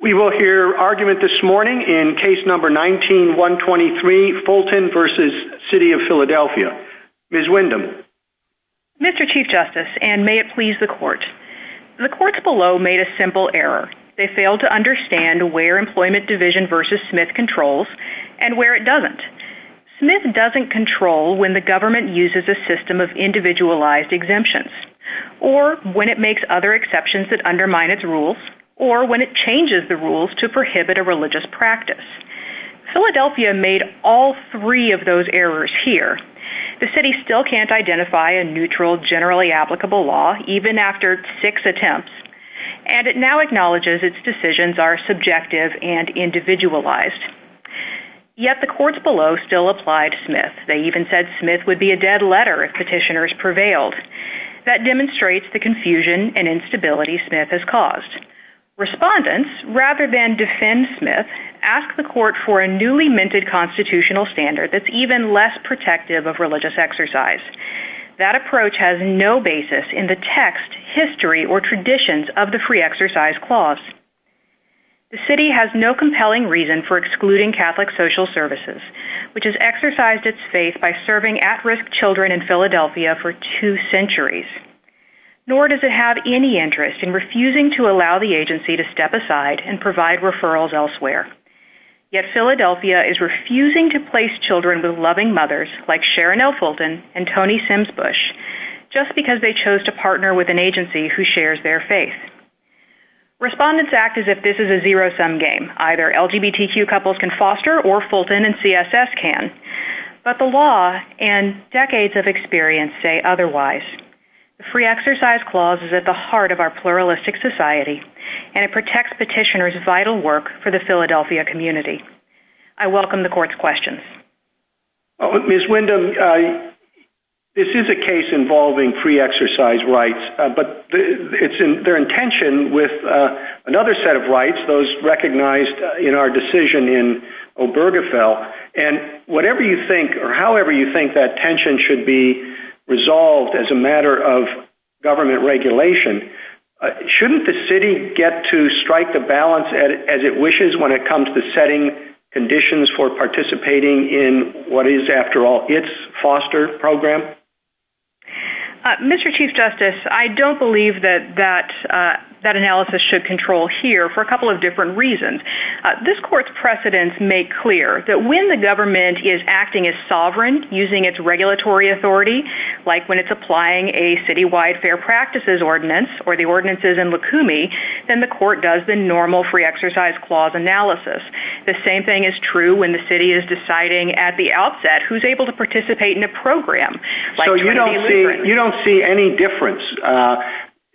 We will hear argument this morning in case number 19-123, Fulton v. City of Philadelphia. Ms. Windham. Mr. Chief Justice, and may it please the Court, the courts below made a simple error. They failed to understand where Employment Division v. Smith controls and where it doesn't. Smith doesn't control when the government uses a system of individualized exemptions, or when it makes other exceptions that undermine its rules, or when it changes the rules to prohibit a religious practice. Philadelphia made all three of those errors here. The city still can't identify a neutral, generally applicable law, even after six attempts, and it now acknowledges its decisions are subjective and individualized. Yet the courts below still applied Smith. They even said Smith would be a dead letter if petitioners prevailed. That demonstrates the confusion and instability Smith has caused. Respondents, rather than defend Smith, ask the court for a newly minted constitutional standard that's even less protective of religious exercise. That approach has no basis in the text, history, or traditions of the free exercise clause. The city has no compelling reason for excluding Catholic social services, which has exercised its faith by serving at-risk children in Philadelphia for two centuries. Nor does it have any interest in refusing to allow the agency to step aside and provide referrals elsewhere. Yet Philadelphia is refusing to place children with loving mothers, like Sharon L. Fulton and Toni Sims Bush, just because they chose to partner with an agency who shares their faith. Respondents act as if this is a zero-sum game. Either LGBTQ couples can foster, or Fulton and CSS can, but the law and decades of experience say otherwise. The free exercise clause is at the heart of our pluralistic society, and it protects petitioners' vital work for the Philadelphia community. I welcome the court's questions. Ms. Wyndham, this is a case involving free exercise rights, but it's in their intention with another set of rights, those recognized in our decision in Obergefell, and whatever you think that tension should be resolved as a matter of government regulation, shouldn't the city get to strike the balance as it wishes when it comes to setting conditions for participating in what is, after all, its foster program? Mr. Chief Justice, I don't believe that that analysis should control here for a couple of different reasons. This court's precedents make clear that when the government is acting as sovereign, using its regulatory authority, like when it's applying a city-wide fair practices ordinance, or the ordinances in Lukumi, then the court does the normal free exercise clause analysis. The same thing is true when the city is deciding at the outset who's able to participate in a program. You don't see any difference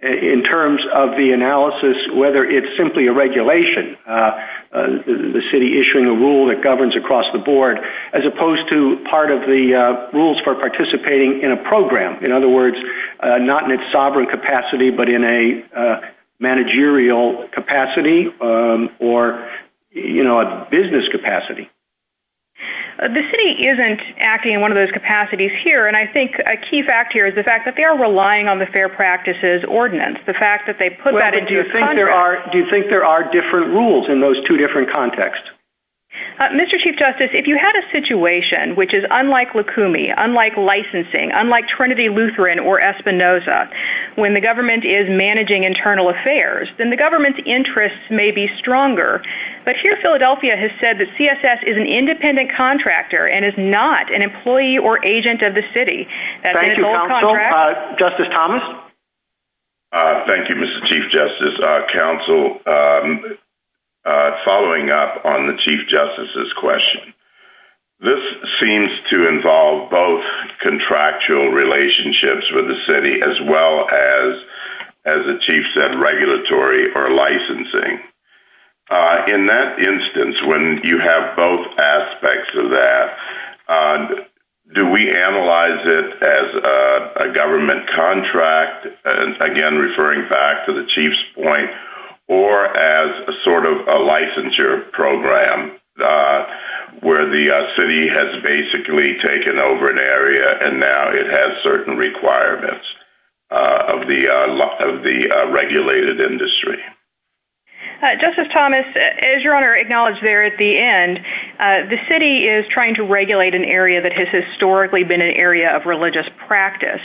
in terms of the analysis, whether it's simply a regulation, the city issuing a rule that governs across the board, as opposed to part of the rules for participating in a program. In other words, not in its sovereign capacity, but in a managerial capacity, or a business capacity. The city isn't acting in one of those capacities here, and I think a key fact here is the fact that they are relying on the fair practices ordinance. The fact that they put that into a contract— Mr. Chief Justice, if you had a situation which is unlike Lukumi, unlike licensing, unlike Trinity Lutheran or Espinoza, when the government is managing internal affairs, then the government's interests may be stronger. But here, Philadelphia has said that CSS is an independent contractor and is not an employee or agent of the city. Thank you, counsel. Justice Thomas? Thank you, Mr. Chief Justice. Counsel, following up on the Chief Justice's question, this seems to involve both contractual relationships with the city, as well as, as the Chief said, regulatory or licensing. In that instance, when you have both aspects of that, do we analyze it as a government contract—again, referring back to the Chief's point—or as a sort of a licensure program where the city has basically taken over an area and now it has certain requirements of the regulated industry? Justice Thomas, as your Honor acknowledged there at the end, the city is trying to regulate an area that has historically been an area of religious practice.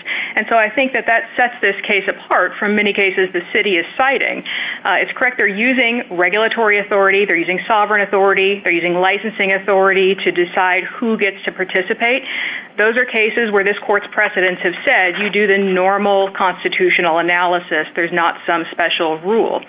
I think that that sets this case apart from many cases the city is citing. It's correct they're using regulatory authority. They're using sovereign authority. They're using licensing authority to decide who gets to participate. Those are cases where this Court's precedents have said you do the normal constitutional analysis. There's not some special rule.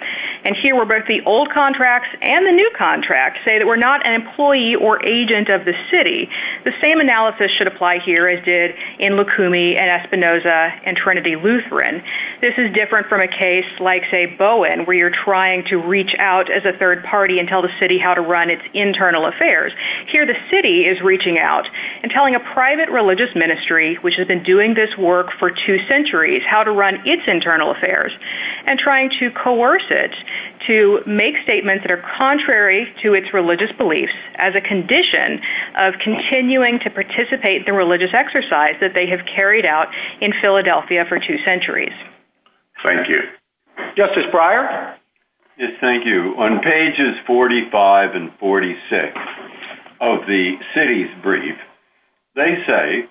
Here, where both the old contracts and the new contracts say that we're not an employee or agent of the city, the same analysis should apply here as did Lukumi and Espinoza and Trinity Lutheran. This is different from a case like Bowen where you're trying to reach out as a third party and tell the city how to run its internal affairs. Here, the city is reaching out and telling a private religious ministry, which has been doing this work for two centuries, how to run its internal affairs and trying to coerce it to make statements that are contrary to its religious beliefs as a condition of continuing to participate the religious exercise that they have carried out in Philadelphia for two centuries. Thank you. Justice Breyer? Yes, thank you. On pages 45 and 46 of the city's brief, they say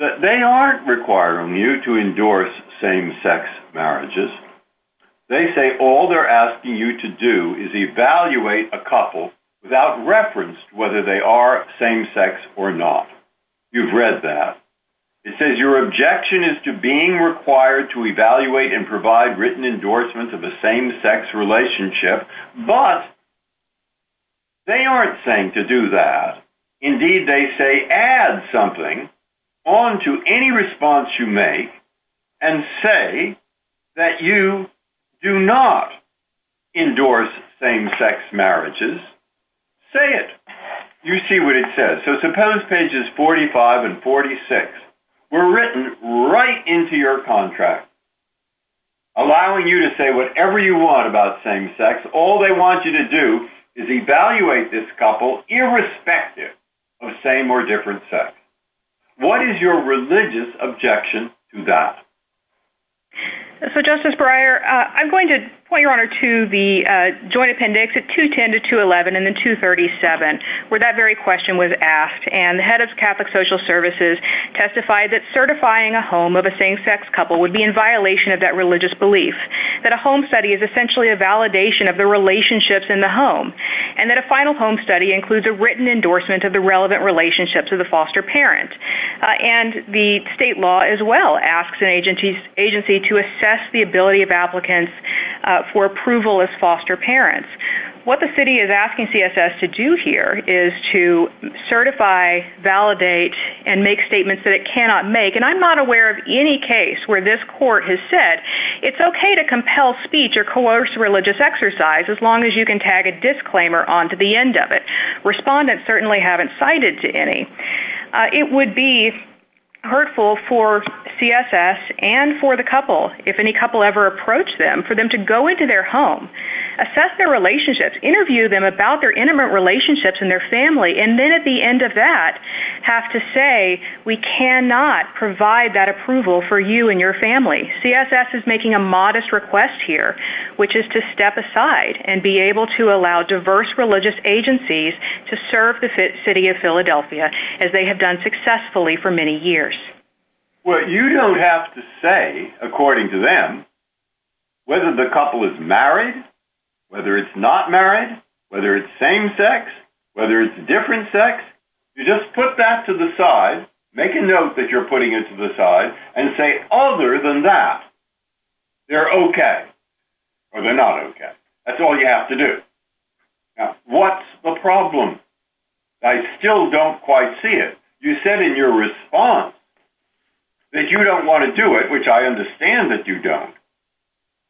that they aren't requiring you to endorse same-sex marriages. They say all they're asking you to do is evaluate a couple without reference to whether they are same-sex or not. You've read that. It says your objection is to being required to evaluate and provide written endorsements of a same-sex relationship, but they aren't saying to do that. Indeed, they say add something onto any response you make and say that you do not endorse same-sex marriages. Say it. You see what it says. So suppose pages 45 and 46 were written right into your contract, allowing you to say whatever you want about same-sex. All they want you to do is evaluate this couple irrespective of same or different sex. What is your religious objection to that? So, Justice Breyer, I'm going to point your honor to the joint appendix at 210 to 211 and then 237, where that very question was asked. And the head of Catholic Social Services testified that certifying a home of a same-sex couple would be in violation of that religious belief, that a home study is essentially a validation of the relationships in the home, and that a final home study includes a written endorsement of the relevant relationships of the foster parent. And the state law as well asks an agency to assess the ability of applicants for approval as foster parents. What the city is asking CSS to do here is to certify, validate, and make statements that it cannot make. And I'm not aware of any case where this court has said it's okay to compel speech or coerce religious exercise as long as you can tag a disclaimer onto the end of it. Respondents certainly haven't cited any. It would be hurtful for CSS and for the couple, if any couple ever approached them, for them to go into their home, assess their relationships, interview them about their intimate relationships and their family, and then at the end of that have to say, we cannot provide that approval for you and your family. CSS is making a modest request here, which is to step aside and be able to allow diverse religious agencies to serve the city of Philadelphia as they have done successfully for many years. Well, you don't have to say, according to them, whether the couple is married, whether it's not married, whether it's same sex, whether it's a different sex. You just put that to the side, make a note that you're putting it to the side, and say other than that, they're okay or they're not okay. That's all you have to do. Now, what's the problem? I still don't quite see it. You said in your response that you don't want to do it, which I understand that you don't,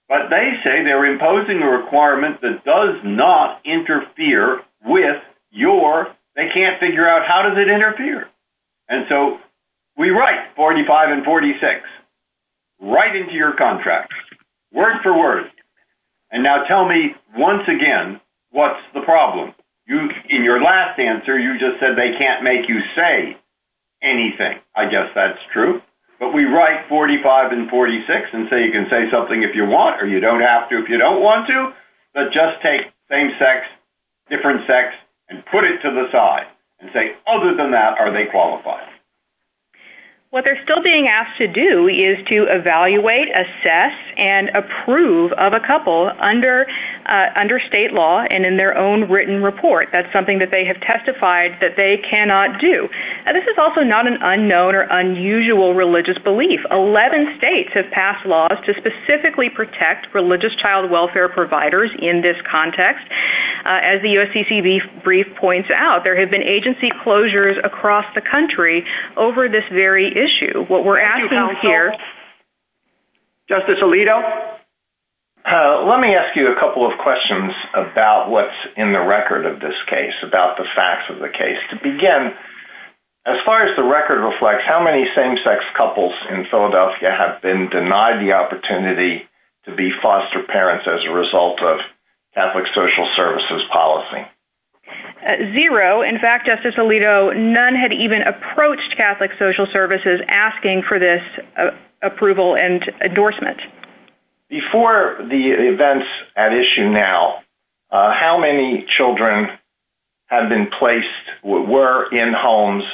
but they say they're imposing a requirement that does not interfere with your, they can't figure out how does it interfere, and so we write 45 and 46 right into your contract, word for word, and now tell me once again, what's the problem? In your last answer, you just said they can't make you say anything. I guess that's true, but we write 45 and 46 and say you can say something if you want or you don't have to if you don't want to, but just take same sex, different sex, and put it to the side and say other than that, are they qualified? What they're still being asked to do is to evaluate, assess, and approve of a couple under state law and in their own written report. That's something that they have testified that they cannot do. This is also not an unknown or unusual religious belief. 11 states have passed laws to specifically protect religious child welfare providers in this context. As the USCCB brief points out, there have been agency closures across the country, over this very issue. What we're asking here- Justice Alito? Let me ask you a couple of questions about what's in the record of this case, about the facts of the case. To begin, as far as the record reflects, how many same sex couples in Philadelphia have been denied the opportunity to be foster parents as a result of Catholic social services policy? Zero. In fact, Justice Alito, none had even approached Catholic social services asking for this approval and endorsement. Before the events at issue now, how many children had been placed, were in homes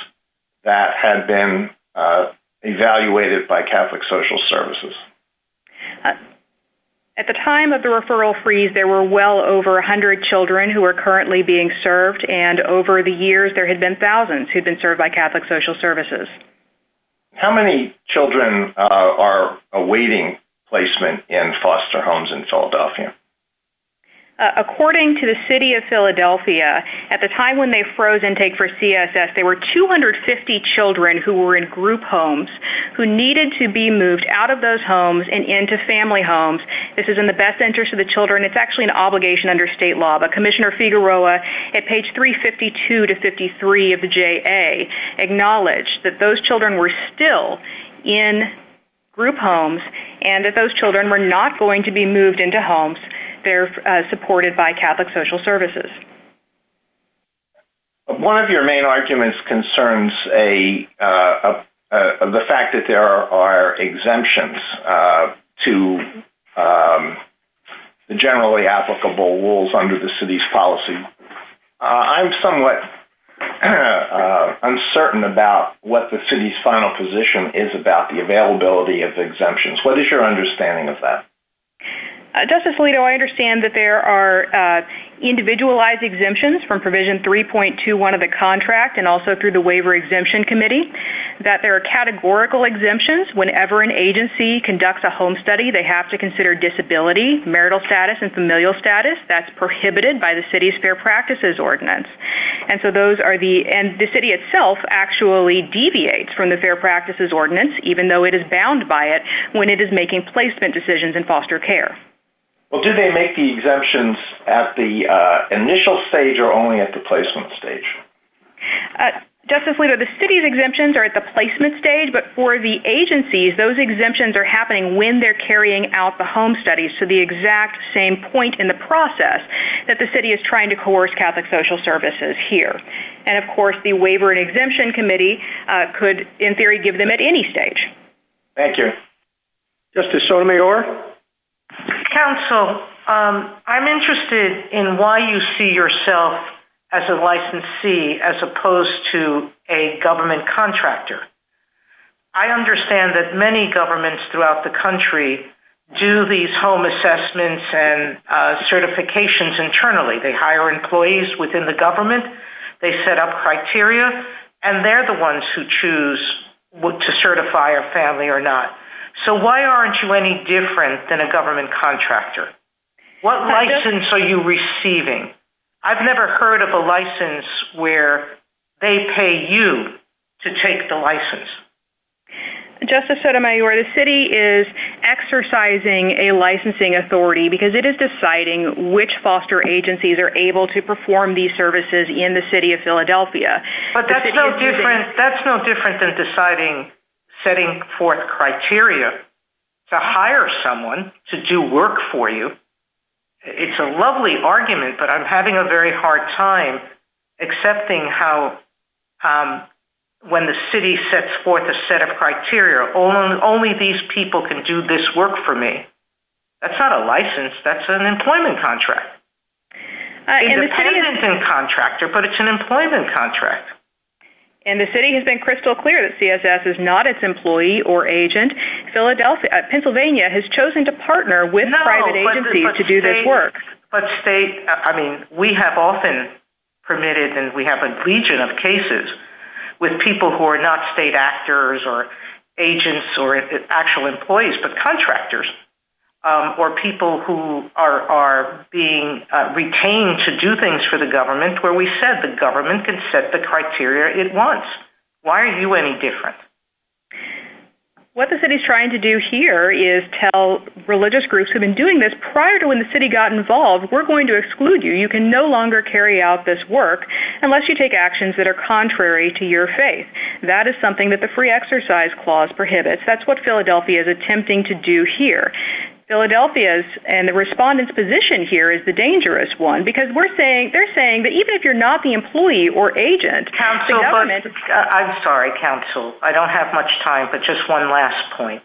that had been evaluated by Catholic social services? At the time of the referral freeze, there were well over 100 children who are currently being served. And over the years, there have been thousands who've been served by Catholic social services. How many children are awaiting placement in foster homes in Philadelphia? According to the city of Philadelphia, at the time when they froze intake for CSS, there were 250 children who were in group homes who needed to be moved out of those homes and into family homes. This is in the best interest of the children. It's actually an obligation under state law. But Commissioner Figueroa, at page 352 to 53 of the JA, acknowledged that those children were still in group homes and that those children were not going to be moved into homes. They're supported by Catholic social services. One of your main arguments concerns the fact that there are exemptions to the generally applicable rules under the city's policy. I'm somewhat uncertain about what the city's final position is about the availability of exemptions. What is your understanding of that? Justice Alito, I understand that there are individualized exemptions from provision 3.21 of the contract and also through the Waiver Exemption Committee, that there are categorical exemptions. Whenever an agency conducts a home study, they have to consider disability, marital status, and familial status. That's prohibited by the city's Fair Practices Ordinance. The city itself actually deviates from the Fair Practices Ordinance, even though it is bound by it, when it is making placement decisions in foster care. Do they make the exemptions at the initial stage or only at the placement stage? Justice Alito, the city's exemptions are at the placement stage, but for the agencies, those exemptions are happening when they're carrying out the home studies. The exact same point in the process that the city is trying to coerce Catholic social services here. Of course, the Waiver and Exemption Committee could, in theory, give them at any stage. Thank you. Justice Sotomayor? Counsel, I'm interested in why you see yourself as a licensee as opposed to a government contractor. I understand that many governments throughout the country do these home assessments and certifications internally. They hire employees within the government, they set up criteria, and they're the ones who choose to certify a family or not. So why aren't you any different than a government contractor? What license are you receiving? I've never heard of a license where they pay you to take the license. Justice Sotomayor, the city is exercising a licensing authority because it is deciding which foster agencies are able to perform these services in the city of Philadelphia. That's no different than deciding, setting forth criteria to hire someone to do work for you. It's a lovely argument, but I'm having a very hard time accepting how when the city sets forth a set of criteria, only these people can do this work for me. That's not a license. That's an employment contract. It's an employment contract. And the city has been crystal clear that CSS is not its employee or agent. Philadelphia, Pennsylvania has chosen to partner with private agencies to do this work. But state, I mean, we have often permitted and we have a legion of cases with people who are not state actors or agents or actual employees, but contractors or people who are being retained to do things for the government where we said the government can set the criteria it wants. Why aren't you any different? What the city is trying to do here is tell religious groups who have been doing this prior to when the city got involved, we're going to exclude you. You can no longer carry out this work unless you take actions that are contrary to your faith. That is something that the free exercise clause prohibits. That's what Philadelphia is attempting to do here. Philadelphia's and the respondent's position here is the dangerous one because we're saying, they're saying that even if you're not the employee or agent. Counsel, I'm sorry, counsel. I don't have much time, but just one last point.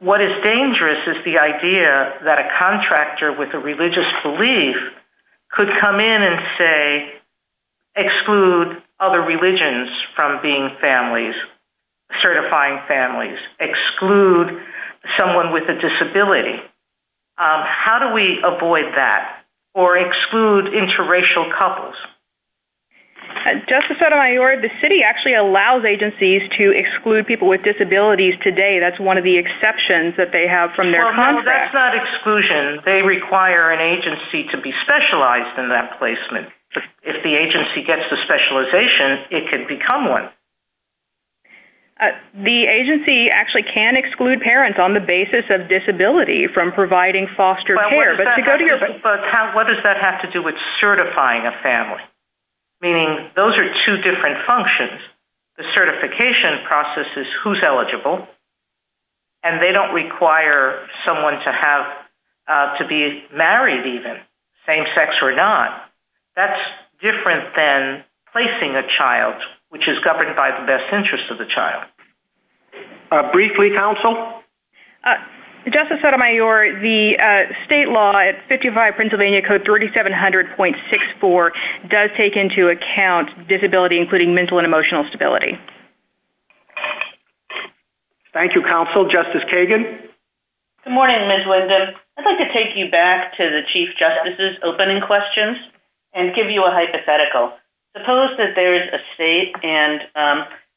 What is dangerous is the idea that a contractor with a religious belief could come in and say, exclude other religions from being families, certifying families, exclude someone with a disability. How do we avoid that or exclude interracial couples? Justice Sotomayor, the city actually allows agencies to exclude people with disabilities today. That's one of the exceptions that they have from their contract. Well, that's not exclusion. They require an agency to be specialized in that placement. If the agency gets the specialization, it could become one. The agency actually can exclude parents on the basis of disability from providing foster care. But what does that have to do with certifying a family? Meaning, those are two different functions. The certification process is who's eligible, and they don't require someone to be married even, same sex or not. That's different than placing a child, which is governed by the best interest of the child. Briefly, counsel? Justice Sotomayor, the state law at 55 Pennsylvania Code 3700.64 does take into account disability including mental and emotional stability. Thank you, counsel. Justice Kagan? Good morning, Ms. Winsom. I'd like to take you back to the Chief Justice's opening questions and give you a hypothetical. Suppose that there's a state and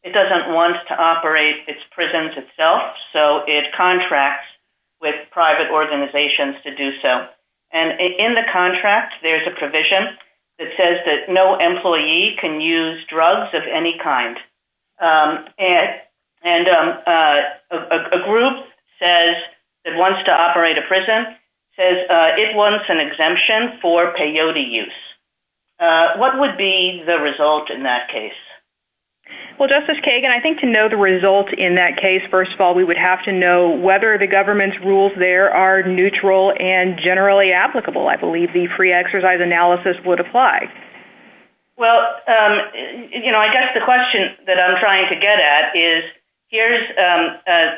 it doesn't want to operate its prisons itself. It contracts with private organizations to do so. In the contract, there's a provision that says that no employee can use drugs of any kind. A group that wants to operate a prison says it wants an exemption for peyote use. What would be the result in that case? Well, Justice Kagan, I think to know the result in that case, first of all, we would have to know whether the government's rules there are neutral and generally applicable. I believe the free exercise analysis would apply. Well, I guess the question that I'm trying to get at is, here's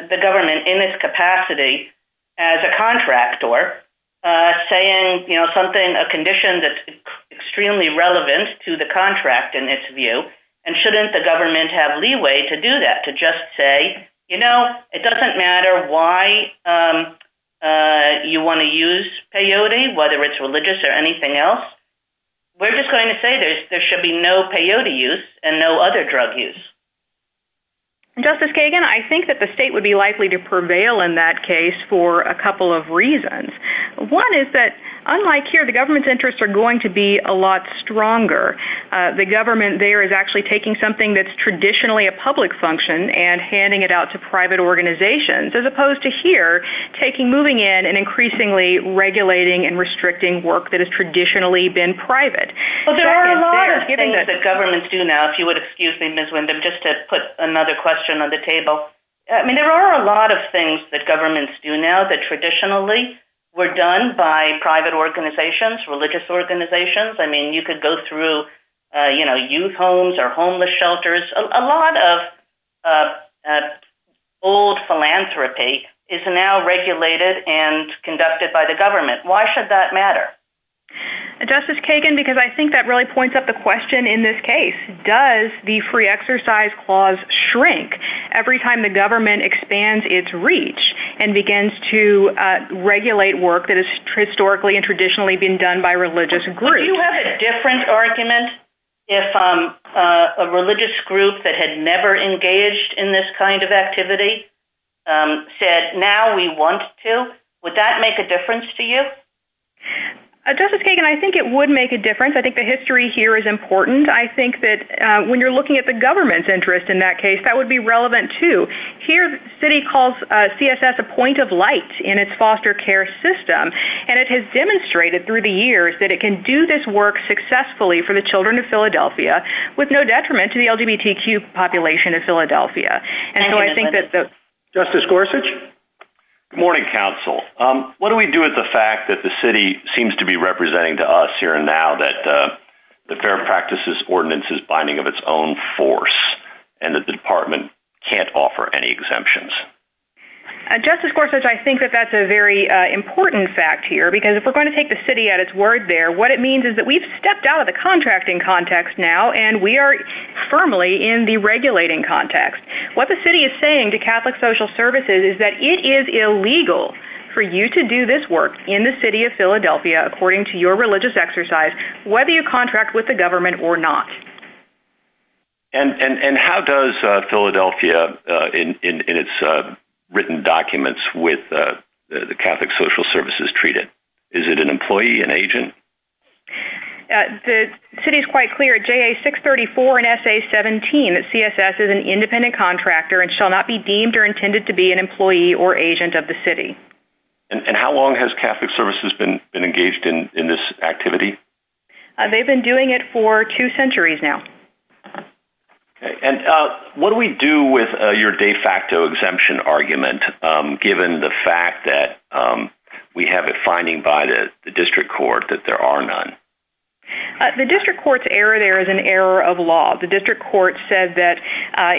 the government in its capacity as a contractor saying something, a condition that's extremely relevant to the state, and shouldn't the government have leeway to do that, to just say, you know, it doesn't matter why you want to use peyote, whether it's religious or anything else. We're just going to say there should be no peyote use and no other drug use. Justice Kagan, I think that the state would be likely to prevail in that case for a couple of reasons. One is that, unlike here, the government's interests are going to be a lot stronger. The government there is actually taking something that's traditionally a public function and handing it out to private organizations, as opposed to here, taking, moving in and increasingly regulating and restricting work that has traditionally been private. Well, there are a lot of things that governments do now, if you would excuse me, Ms. Windham, just to put another question on the table. I mean, there are a lot of things that governments do now that traditionally were done by private organizations, religious organizations. I mean, you could go through, you know, youth homes or homeless shelters. A lot of old philanthropy is now regulated and conducted by the government. Why should that matter? Justice Kagan, because I think that really points up the question in this case, does the free exercise clause shrink every time the government expands its reach and begins to regulate work that has historically and traditionally been done by religious groups? Would you have a different argument if a religious group that had never engaged in this kind of activity said, now we want to? Would that make a difference to you? Justice Kagan, I think it would make a difference. I think the history here is important. I think that when you're looking at the government's interest in that case, that would be relevant, too. Here, the city calls CSS a point of light in its foster care system, and it has worked successfully for the children of Philadelphia with no detriment to the LGBTQ population of Philadelphia. And so I think that the- Justice Gorsuch? Good morning, counsel. What do we do with the fact that the city seems to be representing to us here and now that the Fair Practices Ordinance is binding of its own force and that the department can't offer any exemptions? Justice Gorsuch, I think that that's a very important fact here, because if we're stepping out of the contracting context now, and we are firmly in the regulating context, what the city is saying to Catholic Social Services is that it is illegal for you to do this work in the city of Philadelphia, according to your religious exercise, whether you contract with the government or not. And how does Philadelphia, in its written documents with the Catholic Social Services, treat it? Is it an employee, an agent? The city is quite clear at JA-634 and SA-17 that CSS is an independent contractor and shall not be deemed or intended to be an employee or agent of the city. And how long has Catholic Services been engaged in this activity? They've been doing it for two centuries now. And what do we do with your de facto exemption argument, given the fact that we have a finding by the district court that there are none? The district court's error there is an error of law. The district court said that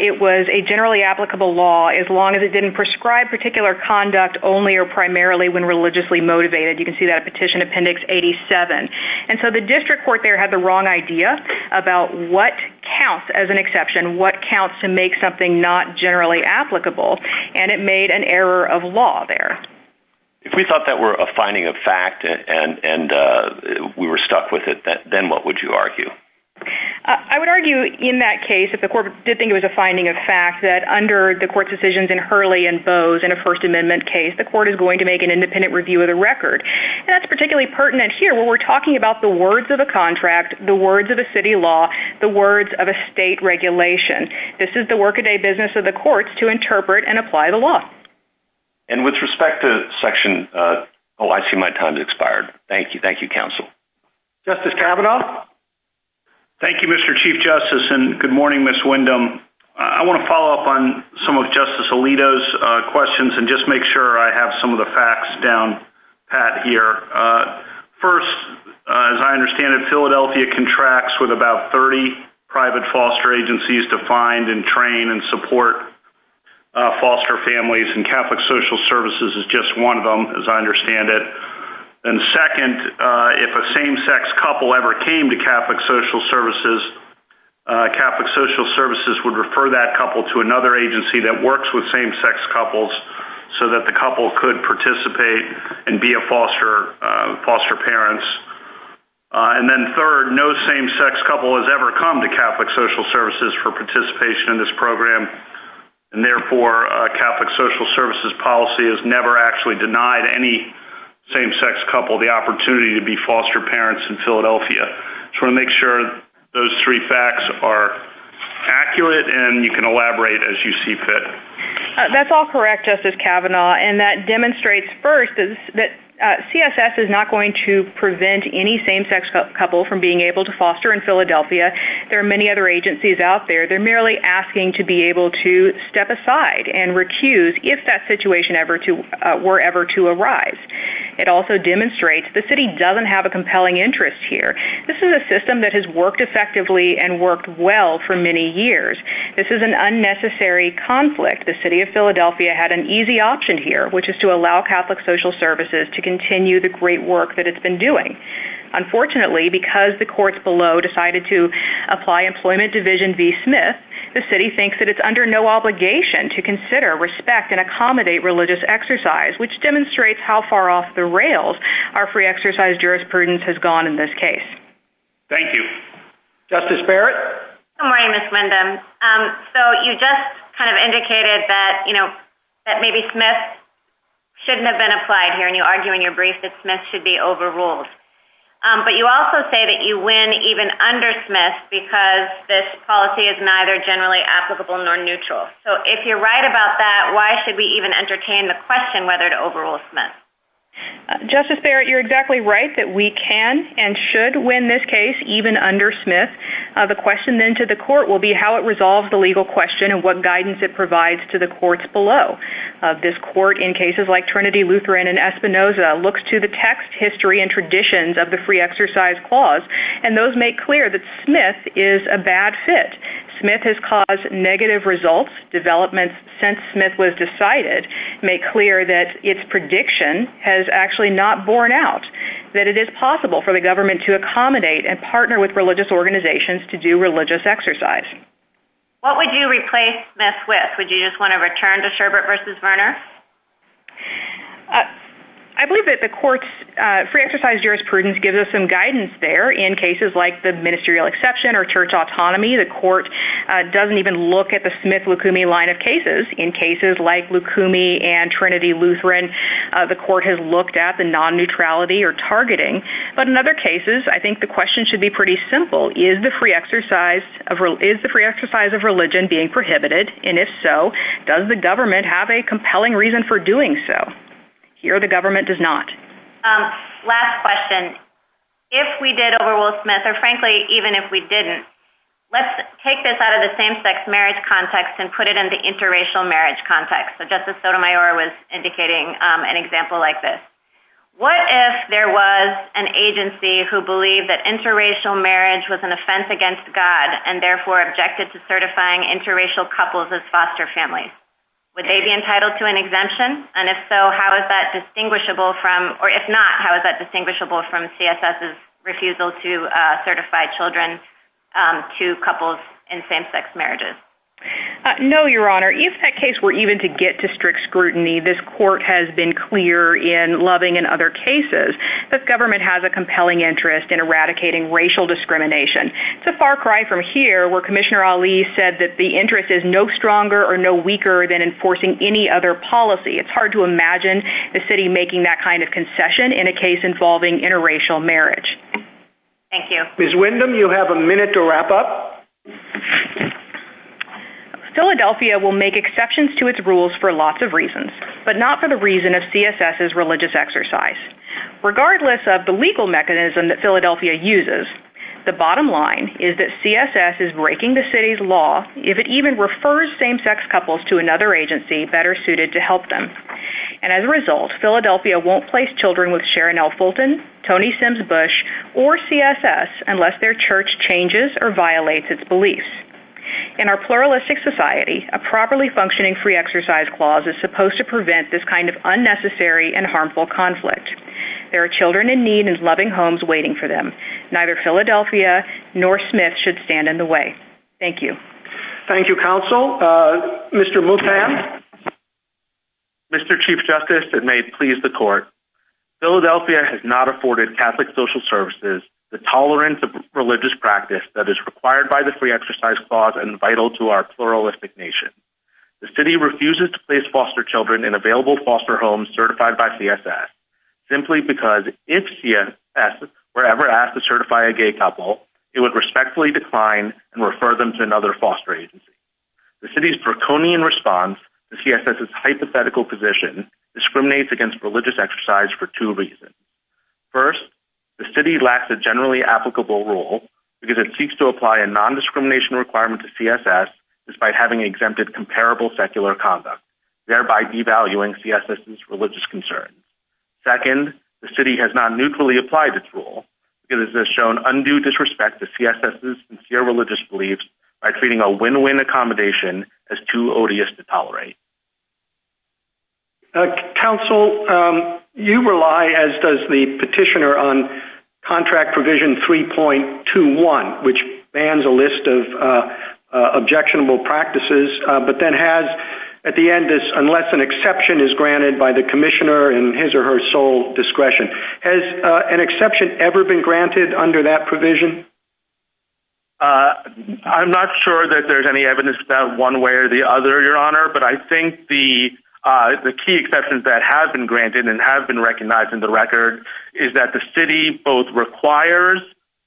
it was a generally applicable law as long as it didn't prescribe particular conduct only or primarily when religiously motivated. You can see that Petition Appendix 87. And so the district court there had the wrong idea about what counts as an exception, what counts to make something not generally applicable, and it made an error of law there. If we thought that were a finding of fact and we were stuck with it, then what would you argue? I would argue in that case, if the court did think it was a finding of fact, that under the court's decisions in Hurley and Bowes in a First Amendment case, the court is going to make an independent review of the record. And that's particularly pertinent here where we're talking about the words of a contract, the words of a city law, the words of a state regulation. This is the workaday business of the courts to interpret and apply the law. And with respect to Section... Oh, I see my time's expired. Thank you. Thank you, counsel. Justice Kavanaugh? Thank you, Mr. Chief Justice, and good morning, Ms. Windham. I want to follow up on some of Justice Alito's questions and just make sure I have some of the facts down pat here. First, as I understand it, Philadelphia contracts with about 30 private foster agencies to find and train and support foster families, and Catholic Social Services is just one of them, as I understand it. And second, if a same-sex couple ever came to Catholic Social Services, Catholic Social Services would refer that couple to another agency that works with same-sex couples so that the couple could participate and be foster parents. And then third, no same-sex couple has ever come to Catholic Social Services for participation in this program, and therefore, a Catholic Social Services policy has never actually denied any same-sex couple the opportunity to be foster parents in Philadelphia. So I want to make sure those three facts are accurate and you can elaborate as you see fit. That's all correct, Justice Kavanaugh, and that demonstrates first that CSS is not going to prevent any same-sex couple from being able to foster in Philadelphia. There are many other agencies out there. They're merely asking to be able to step aside and recuse if that situation were ever to arise. It also demonstrates the city doesn't have a compelling interest here. This is a system that has worked effectively and worked well for many years. This is an unnecessary conflict. The city of Philadelphia had an easy option here, which is to allow Catholic Social Services to continue the great work that it's been doing. Unfortunately, because the courts below decided to apply Employment Division v. Smith, the city thinks that it's under no obligation to consider, respect, and accommodate religious exercise, which demonstrates how far off the rails our free exercise jurisprudence has gone in this case. Thank you. Justice Barrett? Good morning, Ms. Linden. So you just kind of indicated that, you know, that maybe Smith shouldn't have been applied here, and you argue in your brief that Smith should be overruled. But you also say that you win even under Smith because this policy is neither generally applicable nor neutral. So if you're right about that, why should we even entertain the question whether to overrule Smith? Justice Barrett, you're exactly right that we can and should win this case even under Smith. The question then to the court will be how it resolves the legal question and what guidance it provides to the courts below. This court in cases like Trinity, Lutheran, and Espinoza looks to the text, history, and traditions of the free exercise clause, and those make clear that Smith is a bad fit. Smith has caused negative results, developments since Smith was decided make clear that its prediction has actually not borne out, that it is possible for the government to accommodate and partner with religious organizations to do religious exercise. What would you replace Smith with? Do you just want to return to Sherbert v. Werner? I believe that the court's free exercise jurisprudence gives us some guidance there. In cases like the ministerial exception or church autonomy, the court doesn't even look at the Smith-Lukumi line of cases. In cases like Lukumi and Trinity-Lutheran, the court has looked at the non-neutrality or targeting. But in other cases, I think the question should be pretty simple. Is the free exercise of religion being prohibited? And if so, does the government have a compelling reason for doing so? Here, the government does not. Last question. If we did overrule Smith, or frankly, even if we didn't, let's take this out of the same-sex marriage context and put it into interracial marriage context. So Justice Sotomayor was indicating an example like this. What if there was an agency who believed that interracial marriage was an offense against God and therefore objected to certifying interracial couples as foster families? Would they be entitled to an exemption? And if so, how is that distinguishable from, or if not, how is that distinguishable from CSS's refusal to certify children to couples in same-sex marriages? No, Your Honor. If that case were even to get to strict scrutiny, this court has been clear in Loving and other cases that government has a compelling interest in eradicating racial discrimination. It's a far cry from here where Commissioner Ali said that the interest is no stronger or no weaker than enforcing any other policy. It's hard to imagine the city making that kind of concession in a case involving interracial marriage. Thank you. Ms. Windham, you have a minute to wrap up. Philadelphia will make exceptions to its rules for lots of reasons, but not for the reason of CSS's religious exercise. Regardless of the legal mechanism that Philadelphia uses, the bottom line is that CSS is breaking the city's law if it even refers same-sex couples to another agency better suited to help them. And as a result, Philadelphia won't place children with Sharon L. Fulton, Tony Sims or CSS unless their church changes or violates its beliefs. In our pluralistic society, a properly functioning free exercise clause is supposed to prevent this kind of unnecessary and harmful conflict. There are children in need and loving homes waiting for them. Neither Philadelphia nor Smith should stand in the way. Thank you. Thank you, Counsel. Mr. Luthan? Mr. Chief Justice, it may please the court. Philadelphia has not afforded Catholic social services the tolerance of religious practice that is required by the free exercise clause and vital to our pluralistic nation. The city refuses to place foster children in available foster homes certified by CSS simply because if CSS were ever asked to certify a gay couple, it would respectfully decline and refer them to another foster agency. The city's draconian response to CSS's hypothetical position discriminates against religious exercise for two reasons. First, the city lacks a generally applicable role because it seeks to apply a non-discrimination requirement to CSS despite having exempted comparable secular conduct, thereby devaluing CSS's religious concerns. Second, the city has not mutually applied its role because it has shown undue disrespect to CSS's sincere religious beliefs by treating a win-win accommodation as too odious to tolerate. Counsel, you rely, as does the petitioner, on Contract Provision 3.21, which bans a list of objectionable practices, but then has, at the end, unless an exception is granted by the commissioner in his or her sole discretion. Has an exception ever been granted under that provision? I'm not sure that there's any evidence of that one way or the other, Your Honor, but I think the key exceptions that have been granted and have been recognized in the record is that the city both requires,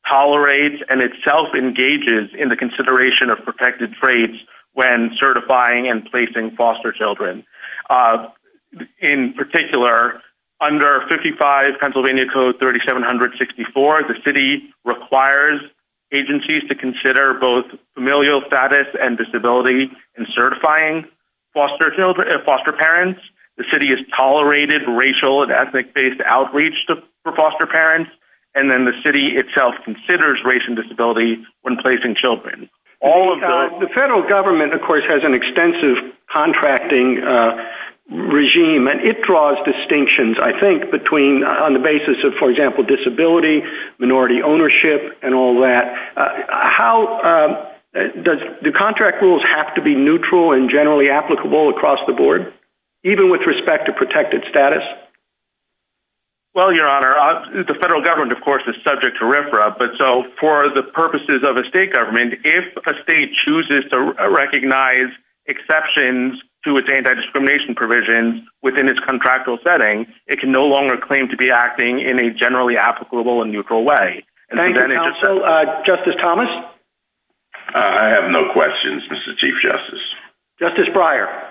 tolerates, and itself engages in the consideration of protected traits when certifying and placing foster children. In particular, under 55 Pennsylvania Code 3764, the city requires agencies to consider both familial status and disability in certifying foster parents. The city has tolerated racial and ethnic-based outreach for foster parents, and then the city itself considers race and disability when placing children. The federal government, of course, has an extensive contracting regime, and it draws distinctions, I think, on the basis of, for example, disability, minority ownership, and all that. How does the contract rules have to be neutral and generally applicable across the board, even with respect to protected status? Well, Your Honor, the federal government, of course, is subject to RFRA, but so for the purposes of a state government, if a state chooses to recognize exceptions to its anti-discrimination provisions within its contractual setting, it can no longer claim to be acting in a generally applicable and neutral way. Thank you, counsel. Justice Thomas? I have no questions, Mr. Chief Justice. Justice Breyer?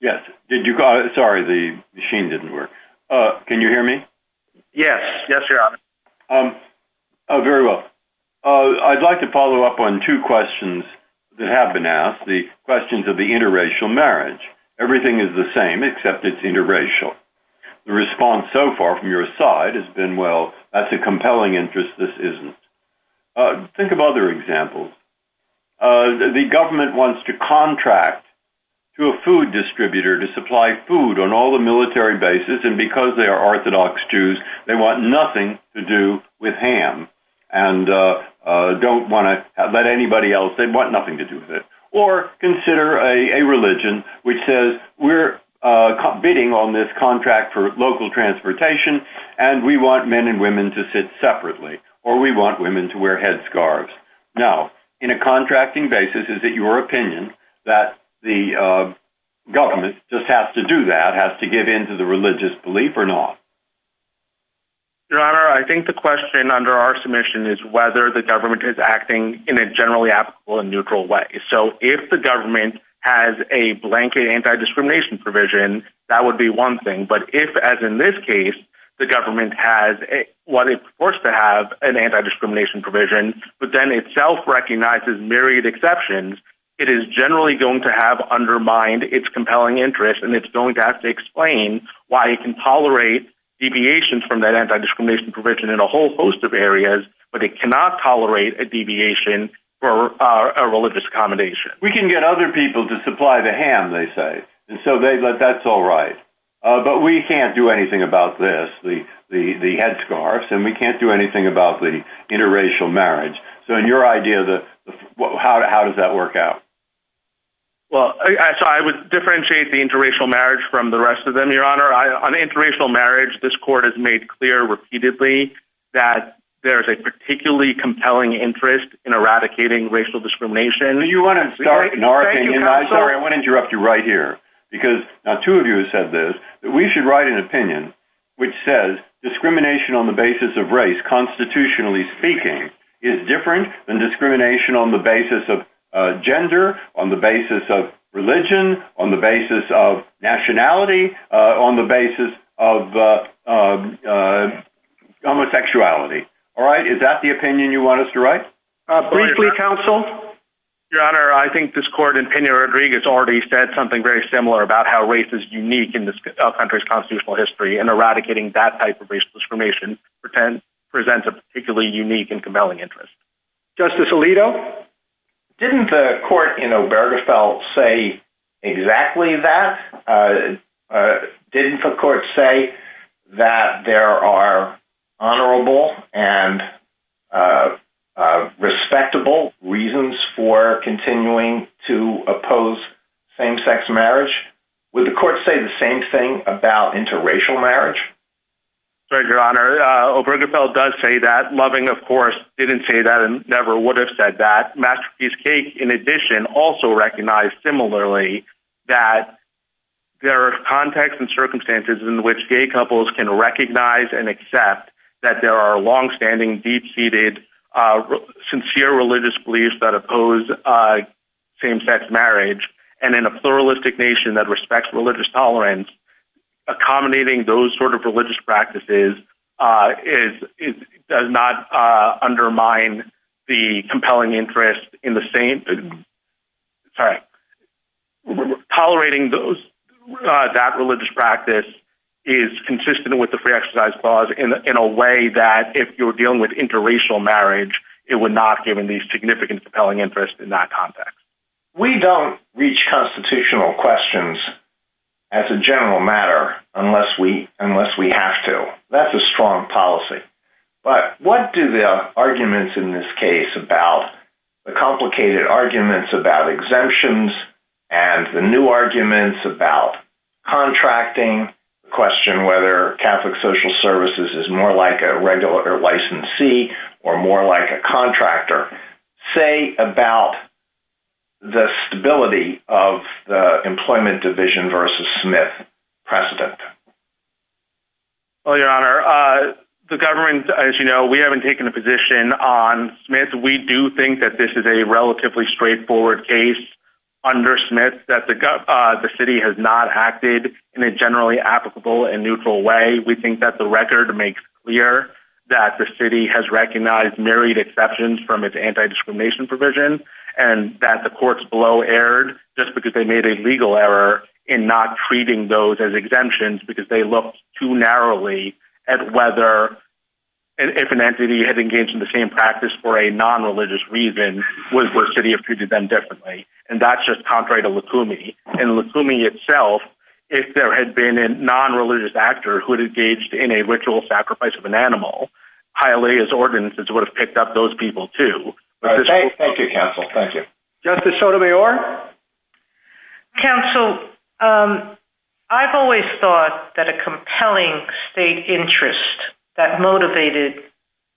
Yes. Did you call? Sorry, the machine didn't work. Can you hear me? Yes. Yes, Your Honor. Very well. I'd like to follow up on two questions that have been asked, the questions of the interracial marriage. Everything is the same, except it's interracial. The response so far from your side has been, well, that's a compelling interest. This isn't. Think of other examples. The government wants to contract to a food distributor to supply food on all the military basis, and because they're Orthodox Jews, they want nothing to do with ham and don't want to let anybody else, they want nothing to do with it. Or consider a religion which says, we're bidding on this contract for local transportation, and we want men and women to sit separately, or we want women to wear headscarves. Now, in a contracting basis, is it your opinion that the government just has to do that, has to give in to the religious belief or not? Your Honor, I think the question under our submission is whether the government is acting in a generally applicable and neutral way. If the government has a blanket anti-discrimination provision, that would be one thing. But if, as in this case, the government is forced to have an anti-discrimination provision, but then itself recognizes myriad exceptions, it is generally going to have undermined its compelling interest, and it's going to have to explain why it can tolerate deviations from that anti-discrimination provision in a whole host of areas, but it cannot tolerate a deviation for a religious accommodation. We can get other people to supply the ham, they say, and so that's all right. But we can't do anything about this, the headscarves, and we can't do anything about the interracial marriage. So in your idea, how does that work out? Well, I would differentiate the interracial marriage from the rest of them, Your Honor. On interracial marriage, this Court has made clear repeatedly that there's a particularly compelling interest in eradicating racial discrimination. You want to start, Narek, and I want to interrupt you right here, because now two of you have said this, that we should write an opinion which says discrimination on the basis of race, constitutionally speaking, is different than discrimination on the basis of gender, on the basis of religion, on the basis of nationality, on the basis of homosexuality. All right? Is that the opinion you want us to write? Briefly, counsel? Your Honor, I think this Court in Pena-Rodriguez already said something very similar about how race is unique in this country's constitutional history, and eradicating that type of racial discrimination presents a particularly unique and compelling interest. Justice Alito? Didn't the Court in Obergefell say exactly that? Didn't the Court say that there are honorable and respectable reasons for continuing to oppose same-sex marriage? Would the Court say the same thing about interracial marriage? Sorry, Your Honor. Obergefell does say that. Loving, of course, didn't say that and never would have said that. In addition, also recognized similarly that there are contexts and circumstances in which gay couples can recognize and accept that there are longstanding, deep-seated, sincere religious beliefs that oppose same-sex marriage, and in a pluralistic nation that respects religious tolerance, accommodating those sort of religious practices does not undermine the compelling interest in the same—sorry—tolerating that religious practice is consistent with the Free Exercise Clause in a way that, if you're dealing with interracial marriage, it would not give any significant compelling interest in that context. We don't reach constitutional questions as a general matter unless we have to. That's a strong policy. But what do the arguments in this case about—the complicated arguments about exemptions and the new arguments about contracting, the question whether Catholic Social Services is more like a regular licensee or more like a contractor—say about the stability of the employment division versus Smith precedent? Well, Your Honor, the government, as you know, we haven't taken a position on Smith. We do think that this is a relatively straightforward case under Smith, that the city has not acted in a generally applicable and neutral way. We think that the record makes clear that the city has recognized married exceptions from its anti-discrimination provision and that the courts below erred just because they made a legal error in not treating those as exemptions because they looked too narrowly at whether—if an entity had engaged in the same practice for a non-religious reason, would the city have treated them differently? And that's just contrary to Lukumi. And Lukumi itself, if there had been a non-religious actor who had engaged in a ritual sacrifice of an animal, Hialeah's ordinances would have picked up those people, too. Thank you, counsel. Thank you. Justice Sotomayor? Counsel, I've always thought that a compelling state interest that motivated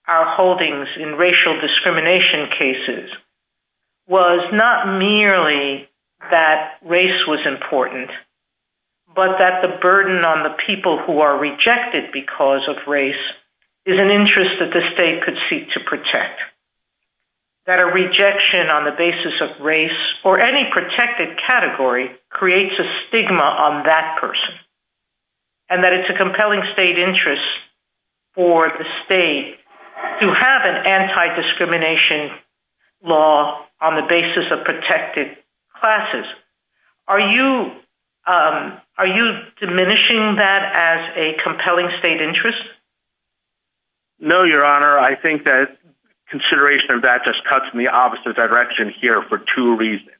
our holdings in racial discrimination cases was not merely that race was important, but that the burden on the people who are rejected because of race is an interest that the state could seek to protect, that a rejection on the basis of race or any protected category creates a stigma on that person, and that it's a compelling state interest for the state to have an anti-discrimination law on the basis of protected classes. Are you diminishing that as a compelling state interest? No, Your Honor. I think that consideration of that just cuts in the opposite direction here for two reasons.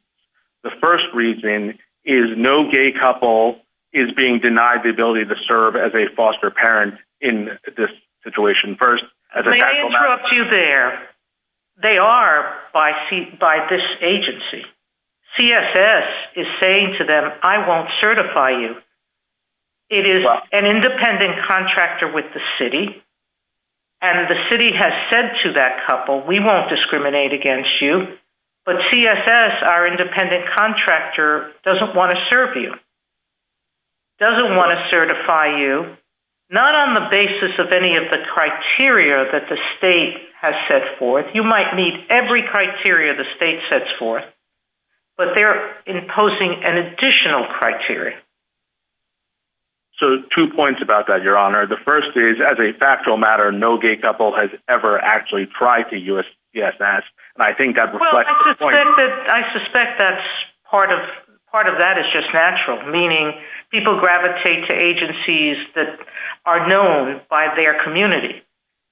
The first reason is no gay couple is being denied the ability to serve as a foster parent in this situation first. May I interrupt you there? They are by this agency. CSS is saying to them, I won't certify you. It is an independent contractor with the city, and the city has said to that couple, we won't discriminate against you, but CSS, our independent contractor, doesn't want to serve you, doesn't want to certify you, not on the basis of any of the criteria that the state has set forth. You might meet every criteria the state sets forth, but they're imposing an additional criteria. So, two points about that, Your Honor. The first is, as a factual matter, no gay couple has ever actually tried to use CSS, and I think that reflects the point— I suspect that part of that is just natural, meaning people gravitate to agencies that are known by their community.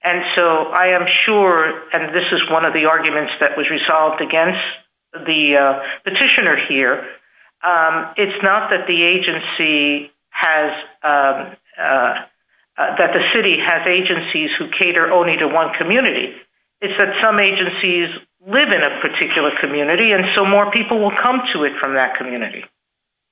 And so, I am sure, and this is one of the arguments that was resolved against the petitioner here, it's not that the agency has—that the city has agencies who cater only to one community. It's that some agencies live in a particular community, and so more people will come to it from that community.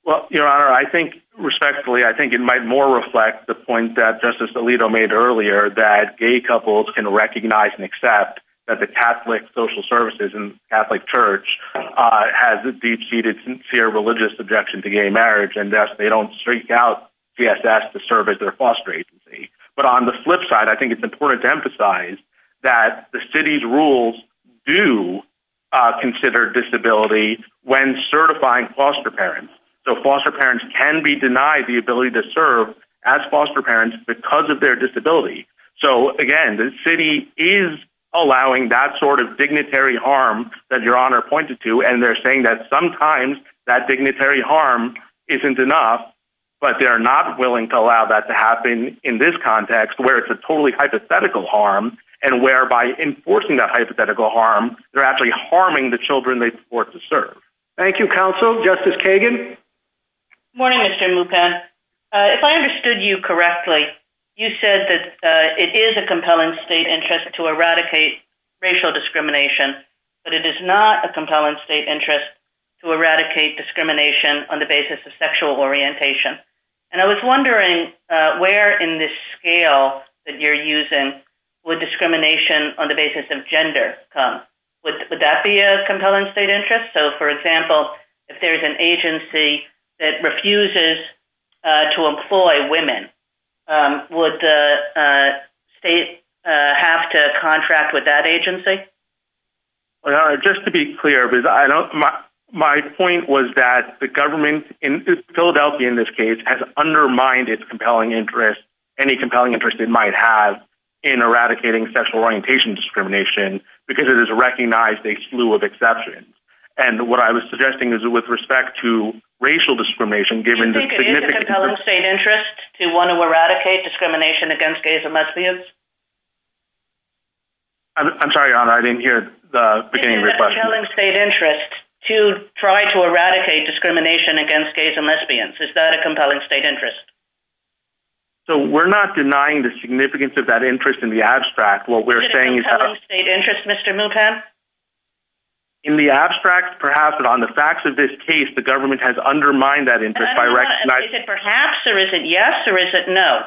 Well, Your Honor, I think, respectfully, I think it might more reflect the point that Justice Alito made earlier, that gay couples can recognize and accept that the Catholic Social Services and Catholic Church has a deep-seated, sincere, religious objection to gay marriage, and thus they don't seek out CSS to serve as their foster agency. But on the flip side, I think it's important to emphasize that the city's rules do consider disability when certifying foster parents. So, foster parents can be denied the ability to serve as foster parents because of their disability. So, again, the city is allowing that sort of dignitary harm that Your Honor pointed to, and they're saying that sometimes that dignitary harm isn't enough, but they're not willing to allow that to happen in this context, where it's a totally hypothetical harm, and where, by enforcing that hypothetical harm, they're actually harming the children they support to serve. Thank you, Counsel. Justice Kagan? Good morning, Mr. Mupad. If I understood you correctly, you said that it is a compelling state interest to eradicate racial discrimination, but it is not a compelling state interest to eradicate discrimination on the basis of sexual orientation. And I was wondering, where in this scale that you're using would discrimination on the basis of gender come? Would that be a compelling state interest? So, for example, if there's an agency that refuses to employ women, would the state have to contract with that agency? Well, Your Honor, just to be clear, my point was that the government in Philadelphia, in this case, has undermined its compelling interest, any compelling interest it might have, in eradicating sexual orientation discrimination, because it has recognized a slew of exceptions. And what I was suggesting is that, with respect to racial discrimination, given the significance— Is it a compelling state interest to want to eradicate discrimination against gays and lesbians? I'm sorry, Your Honor, I didn't hear the beginning of your question. Is it a compelling state interest to try to eradicate discrimination against gays and lesbians? Is that a compelling state interest? So, we're not denying the significance of that interest in the abstract. What we're saying is that— Is it a compelling state interest, Mr. Mupad? In the abstract, perhaps, but on the facts of this case, the government has undermined that interest by recognizing— Is it perhaps, or is it yes, or is it no?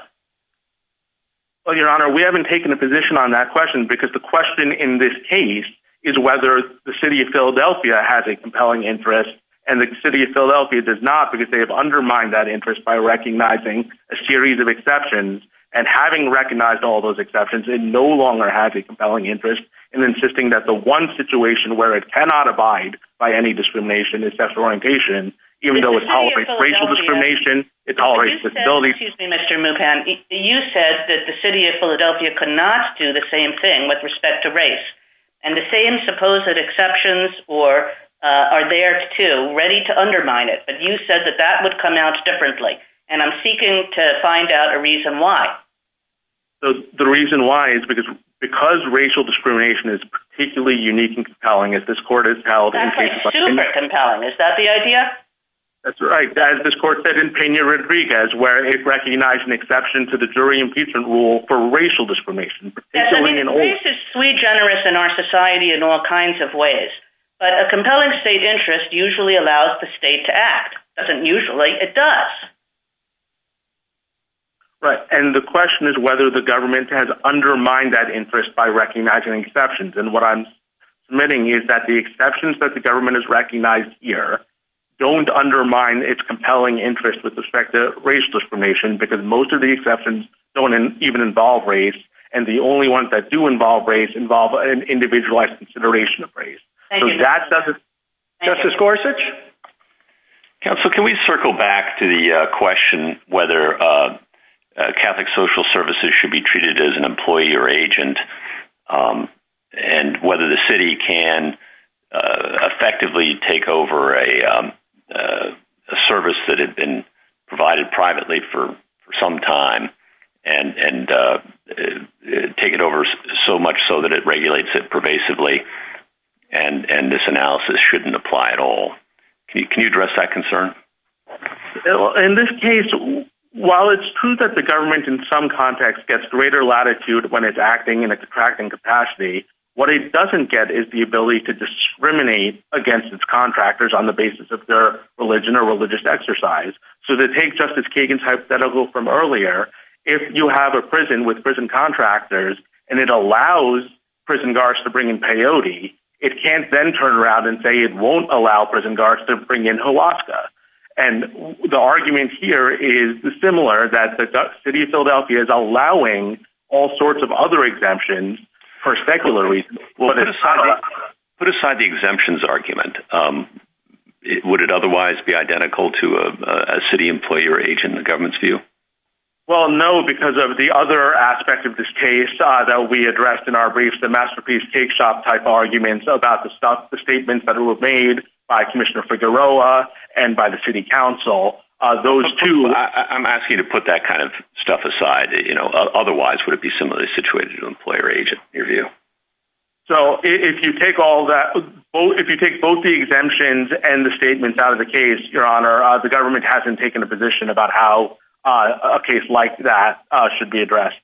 Well, Your Honor, we haven't taken a position on that question, because the question in this case is whether the city of Philadelphia has a compelling interest, and the city of Philadelphia does not, because they have undermined that interest by recognizing a series of exceptions. And having recognized all those exceptions, it no longer has a compelling interest in insisting that the one situation where it cannot abide by any discrimination is sexual orientation, even though it tolerates racial discrimination, it tolerates— Excuse me, Mr. Mupad. You said that the city of Philadelphia could not do the same thing with respect to race, and the same supposed exceptions are there, too, ready to undermine it. But you said that that would come out differently, and I'm seeking to find out a reason why. So, the reason why is because racial discrimination is particularly unique and compelling, as this court has held— That's, like, super compelling. Is that the idea? That's right. As this court said in Peña-Rodriguez, where it recognized an exception to the jury impeachment rule for racial discrimination, particularly in older— I mean, the case is pretty generous in our society in all kinds of ways, but a compelling state interest usually allows the state to act. It doesn't usually. It does. Right. And the question is whether the government has undermined that interest by recognizing exceptions, and what I'm submitting is that the exceptions that the government has recognized here don't undermine its compelling interest with respect to race discrimination, because most of the exceptions don't even involve race, and the only ones that do involve race involve an individualized consideration of race. Thank you. So, that's— Justice Gorsuch? Counsel, can we circle back to the question whether Catholic social services should be treated as an employee or agent, and whether the city can effectively take over a service that had been provided privately for some time and take it over so much so that it regulates it pervasively, and this analysis shouldn't apply at all? Can you address that concern? In this case, while it's true that the government in some context gets greater latitude when it's acting in its attracting capacity, what it doesn't get is the ability to discriminate against its contractors on the basis of their religion or religious exercise. So, to take Justice Kagan's hypothetical from earlier, if you have a prison with prison guards to bring in peyote, it can't then turn around and say it won't allow prison guards to bring in ayahuasca. And the argument here is similar, that the city of Philadelphia is allowing all sorts of other exemptions for secular reasons. Put aside the exemptions argument. Would it otherwise be identical to a city employee or agent in the government's view? Well, no, because of the other aspect of this case that we addressed in our briefs, masterpiece, cake shop type arguments about the stuff, the statements that were made by Commissioner Figueroa and by the city council, those two... I'm asking you to put that kind of stuff aside. Otherwise, would it be similarly situated to an employee or agent in your view? So, if you take all that, if you take both the exemptions and the statements out of the case, your honor, the government hasn't taken a position about how a case like that should be addressed.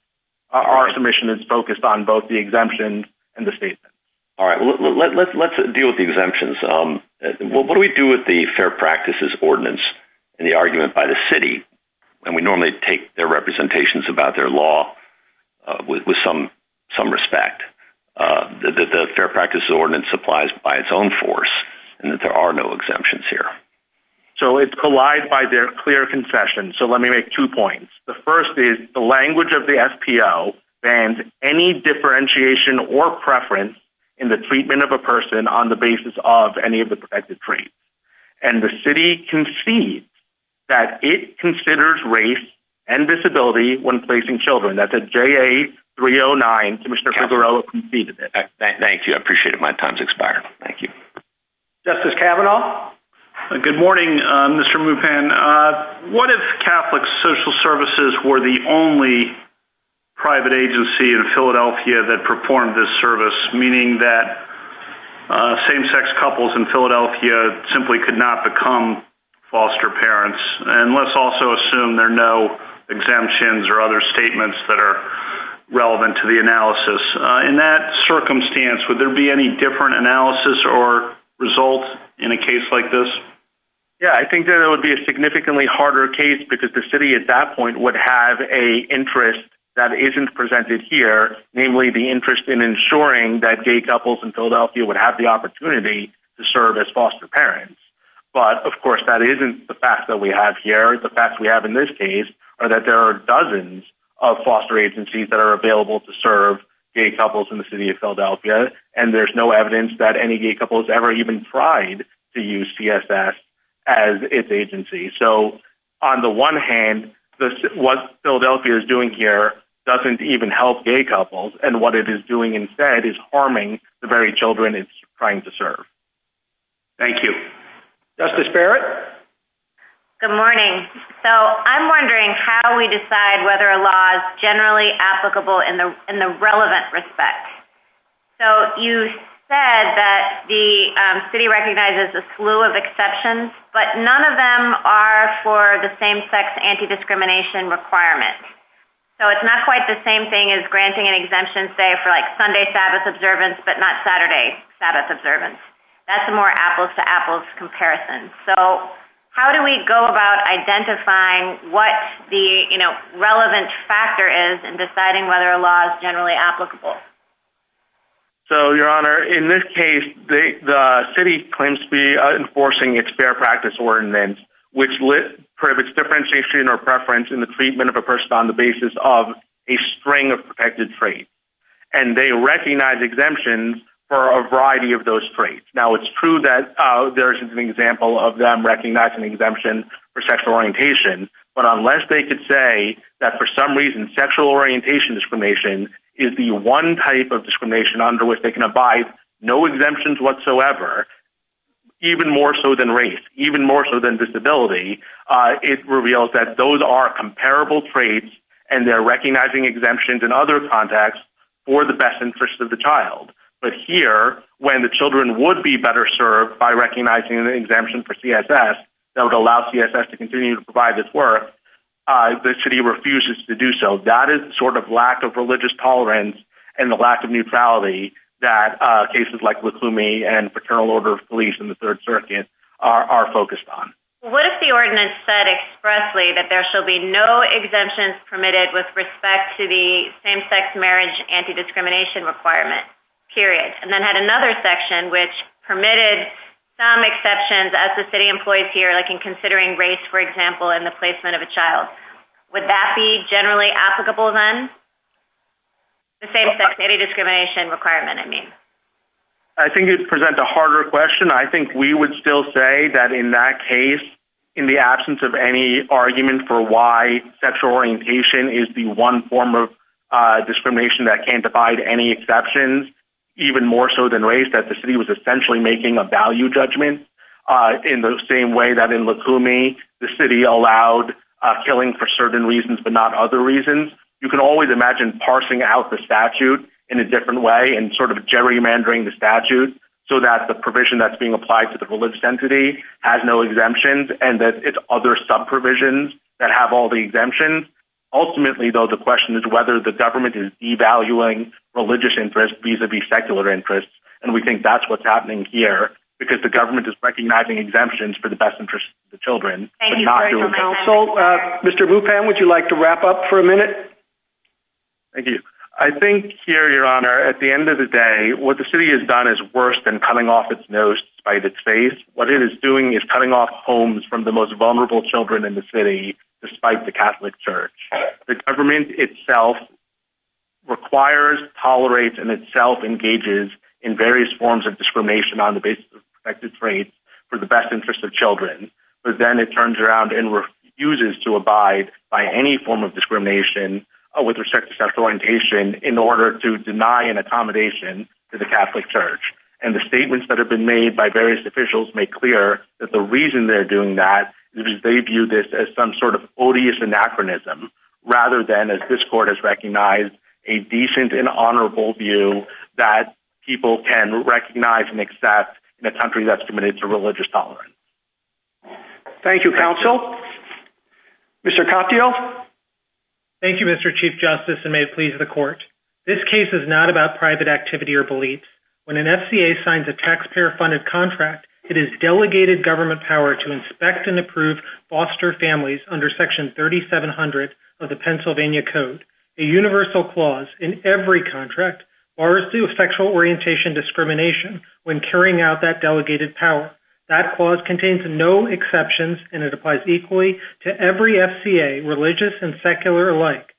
Our submission is focused on both the exemption and the statement. All right, well, let's deal with the exemptions. What do we do with the Fair Practices Ordinance and the argument by the city when we normally take their representations about their law with some respect? The Fair Practices Ordinance applies by its own force and that there are no exemptions here. So, it's collided by their clear confession. So, let me make two points. The first is the language of the SPO bans any differentiation or preference in the treatment of a person on the basis of any of the protected traits. And the city concedes that it considers race and disability when placing children. That's a JA 309, Commissioner Figueroa conceded it. Thank you. I appreciate it. My time's expired. Thank you. Justice Kavanaugh? Good morning, Mr. Mupan. What if Catholic Social Services were the only private agency in Philadelphia that performed this service, meaning that same-sex couples in Philadelphia simply could not become foster parents? And let's also assume there are no exemptions or other statements that are relevant to the analysis. In that circumstance, would there be any different analysis or result in a case like this? Yeah, I think that it would be a significantly harder case, because the city at that point would have an interest that isn't presented here, namely the interest in ensuring that gay couples in Philadelphia would have the opportunity to serve as foster parents. But, of course, that isn't the fact that we have here. The facts we have in this case are that there are dozens of foster agencies that are available to serve gay couples in the city of Philadelphia, and there's no evidence that any gay couple has ever even tried to use CSS as its agency. So, on the one hand, what Philadelphia is doing here doesn't even help gay couples, and what it is doing instead is harming the very children it's trying to serve. Thank you. Justice Barrett? Good morning. So, I'm wondering how we decide whether a law is generally applicable in the relevant respect. So, you said that the city recognizes a slew of exceptions, but none of them are for the same-sex anti-discrimination requirements. So, it's not quite the same thing as granting an exemption, say, for Sunday Sabbath observance, but not Saturday Sabbath observance. That's a more apples-to-apples comparison. So, how do we go about identifying what the relevant factor is in deciding whether a law is generally applicable? So, Your Honor, in this case, the city claims to be enforcing its Fair Practice Ordinance, which limits differentiation or preference in the treatment of a person on the basis of a string of protected traits, and they recognize exemptions for a variety of those traits. Now, it's true that there is an example of them recognizing an exemption for sexual orientation, but unless they could say that, for some reason, sexual orientation discrimination is the one type of discrimination under which they can abide—no exemptions whatsoever, even more so than race, even more so than disability—it reveals that those are comparable traits, and they're recognizing exemptions in other contexts for the best interest of the child. But here, when the children would be better served by recognizing an exemption for CSS, that would allow CSS to continue to provide this work, the city refuses to do so. That is the sort of lack of religious tolerance and the lack of neutrality that cases like with Plume and Fraternal Order of Beliefs in the Third Circuit are focused on. Well, what if the ordinance said expressly that there shall be no exemptions permitted with respect to the same-sex marriage anti-discrimination requirement, period, and then had another section which permitted some exceptions, as the city employs here, like in considering Would that be generally applicable then? The same-sex marriage discrimination requirement, I mean. I think you present a harder question. I think we would still say that, in that case, in the absence of any argument for why sexual orientation is the one form of discrimination that can't abide any exceptions, even more so than race, that the city was essentially making a value judgment in the same way that the city allowed killing for certain reasons but not other reasons. You can always imagine parsing out the statute in a different way and sort of gerrymandering the statute so that the provision that's being applied to the religious entity has no exemptions and that it's other sub-provisions that have all the exemptions. Ultimately, though, the question is whether the government is devaluing religious interests vis-a-vis secular interests, and we think that's what's happening here, because the children are not doing that. So, Mr. Bupan, would you like to wrap up for a minute? Thank you. I think here, Your Honor, at the end of the day, what the city has done is worse than cutting off its nose despite its faith. What it is doing is cutting off homes from the most vulnerable children in the city, despite the Catholic Church. The government itself requires, tolerates, and itself engages in various forms of discrimination on the basis of protected traits for the best interest of children, but then it turns around and refuses to abide by any form of discrimination with respect to sexual orientation in order to deny an accommodation to the Catholic Church. And the statements that have been made by various officials make clear that the reason they're doing that is they view this as some sort of odious anachronism, rather than, as this court has recognized, a decent and honorable view that people can recognize and accept in a country that's committed to religious tolerance. Thank you, counsel. Mr. Coffdiel? Thank you, Mr. Chief Justice, and may it please the court. This case is not about private activity or beliefs. When an FCA signs a taxpayer-funded contract, it is delegated government power to inspect and approve foster families under Section 3700 of the Pennsylvania Code. A universal clause in every contract bars sexual orientation discrimination when carrying out that delegated power. That clause contains no exceptions, and it applies equally to every FCA, religious and secular alike.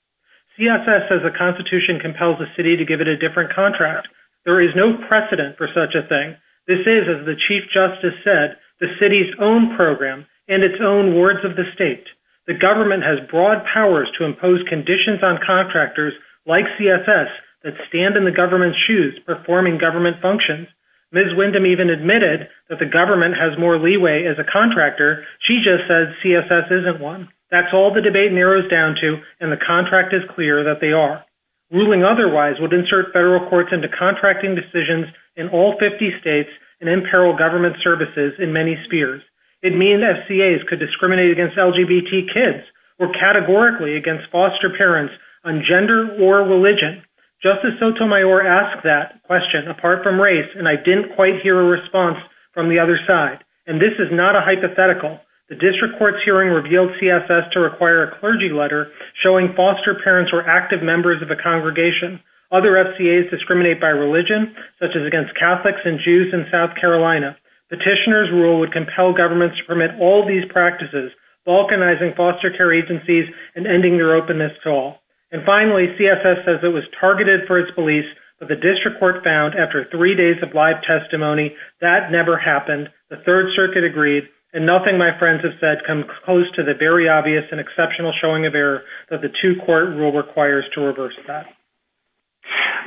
CFS, as a constitution, compels the city to give it a different contract. There is no precedent for such a thing. This is, as the Chief Justice said, the city's own program and its own words of the state. The government has broad powers to impose conditions on contractors like CFS that stand in the government's shoes, performing government functions. Ms. Windham even admitted that the government has more leeway as a contractor. She just says CFS isn't one. That's all the debate narrows down to, and the contract is clear that they are. Ruling otherwise would insert federal courts into contracting decisions in all 50 states and imperil government services in many spheres. It means FCAs could discriminate against LGBT kids or categorically against foster parents on gender or religion. Justice Sotomayor asked that question apart from race, and I didn't quite hear a response from the other side. And this is not a hypothetical. The district court's hearing revealed CFS to require a clergy letter showing foster parents were active members of a congregation. Other FCAs discriminate by religion, such as against Catholics and Jews in South Carolina. Petitioners' rule would compel governments to permit all these practices, balkanizing foster care agencies and ending their openness to all. And finally, CFS says it was targeted for its police, but the district court found after three days of live testimony that never happened. The Third Circuit agreed, and nothing my friends have said comes close to the very obvious and exceptional showing of error that the two-court rule requires to reverse that.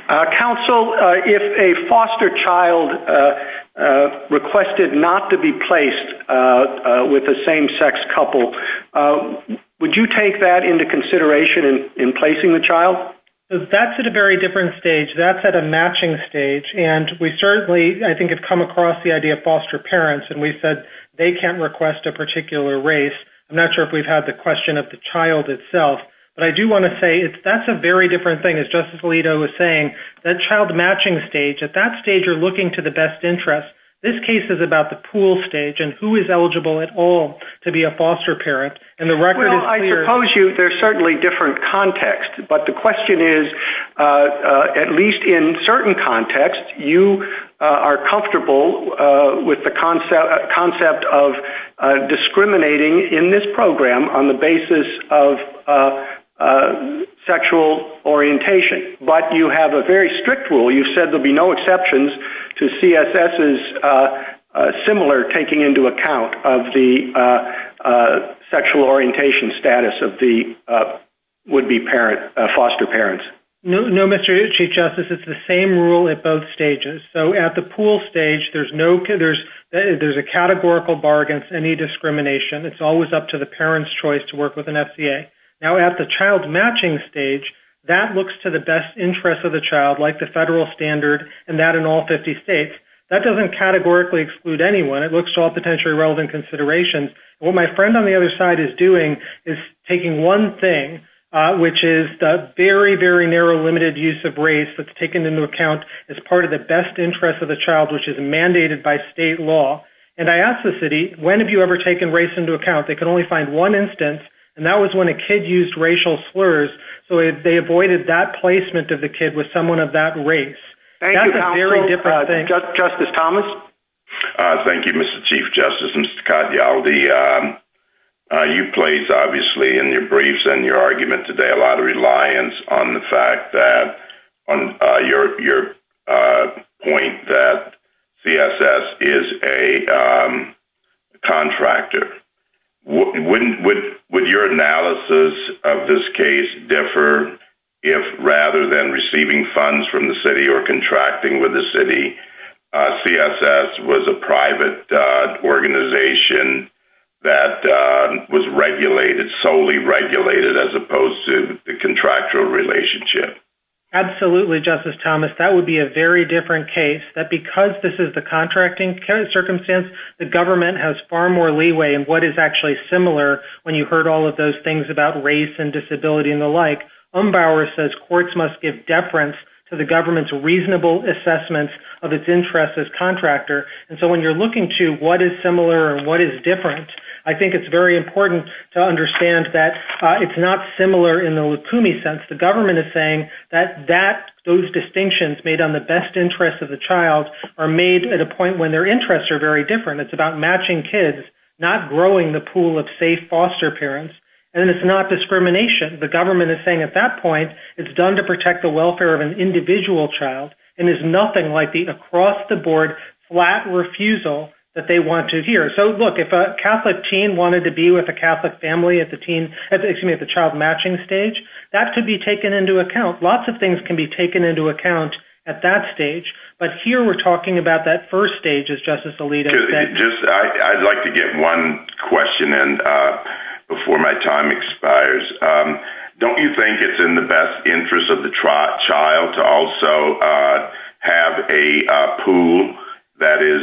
MR. GOLDSMITH. Counsel, if a foster child requested not to be placed with a same-sex couple, would you take that into consideration in placing the child? MR. GOLDSMITH. That's at a very different stage. That's at a matching stage. And we certainly, I think, have come across the idea of foster parents, and we've said they can't request a particular race. I'm not sure if we've had the question of the child itself, but I do want to say that's a very different thing. As Justice Alito was saying, that child matching stage, at that stage you're looking to the best interest. This case is about the pool stage and who is eligible at all to be a foster parent, and the record is clear. MR. GOLDSMITH. Well, I suppose there's certainly different context, but the question is, at least in this program, on the basis of sexual orientation. But you have a very strict rule. You said there'd be no exceptions to CSS's similar taking into account of the sexual orientation status of the would-be foster parents. MR. GOLDSMITH. No, Mr. Ishii, Justice. It's the same rule at both stages. So at the pool stage, there's a categorical bargain for any discrimination. It's always up to the parent's choice to work with an FCA. Now at the child matching stage, that looks to the best interest of the child, like the federal standard and that in all 50 states. That doesn't categorically exclude anyone. It looks to all potentially relevant considerations. What my friend on the other side is doing is taking one thing, which is the very, very narrow limited use of race that's taken into account as part of the best interest of the child, which is mandated by state law. And I asked the city, when have you ever taken race into account? They could only find one instance, and that was when a kid used racial slurs. So they avoided that placement of the kid with someone of that race. That's a very different thing. MR. GOLDSMITH. Justice Thomas? MR. THOMPSON. Thank you, Mr. Chief Justice. Mr. Catialdi, you placed, obviously, in your briefs and your argument today, a lot of reliance on the fact that, on your point that CSS is a contractor. Would your analysis of this case differ if, rather than receiving funds from the city or contracting with the city, CSS was a private organization that was regulated, solely regulated, as opposed to a contractual relationship? MR. CATIALDI. Absolutely, Justice Thomas. That would be a very different case, that because this is the contracting circumstance, the government has far more leeway in what is actually similar when you heard all of those things about race and disability and the like. Umbauer says courts must give deference to the government's reasonable assessment of its interest as contractor. And so when you're looking to what is similar and what is different, I think it's very similar in the Lukumi sense. The government is saying that those distinctions made on the best interest of the child are made at a point when their interests are very different. It's about matching kids, not growing the pool of, say, foster parents. And it's not discrimination. The government is saying, at that point, it's done to protect the welfare of an individual child. And there's nothing like the across-the-board, flat refusal that they want to hear. Look, if a Catholic teen wanted to be with a Catholic family at the child matching stage, that could be taken into account. Lots of things can be taken into account at that stage. But here we're talking about that first stage, as Justice Alito said. I'd like to get one question in before my time expires. Don't you think it's in the best interest of the child to also have a pool that is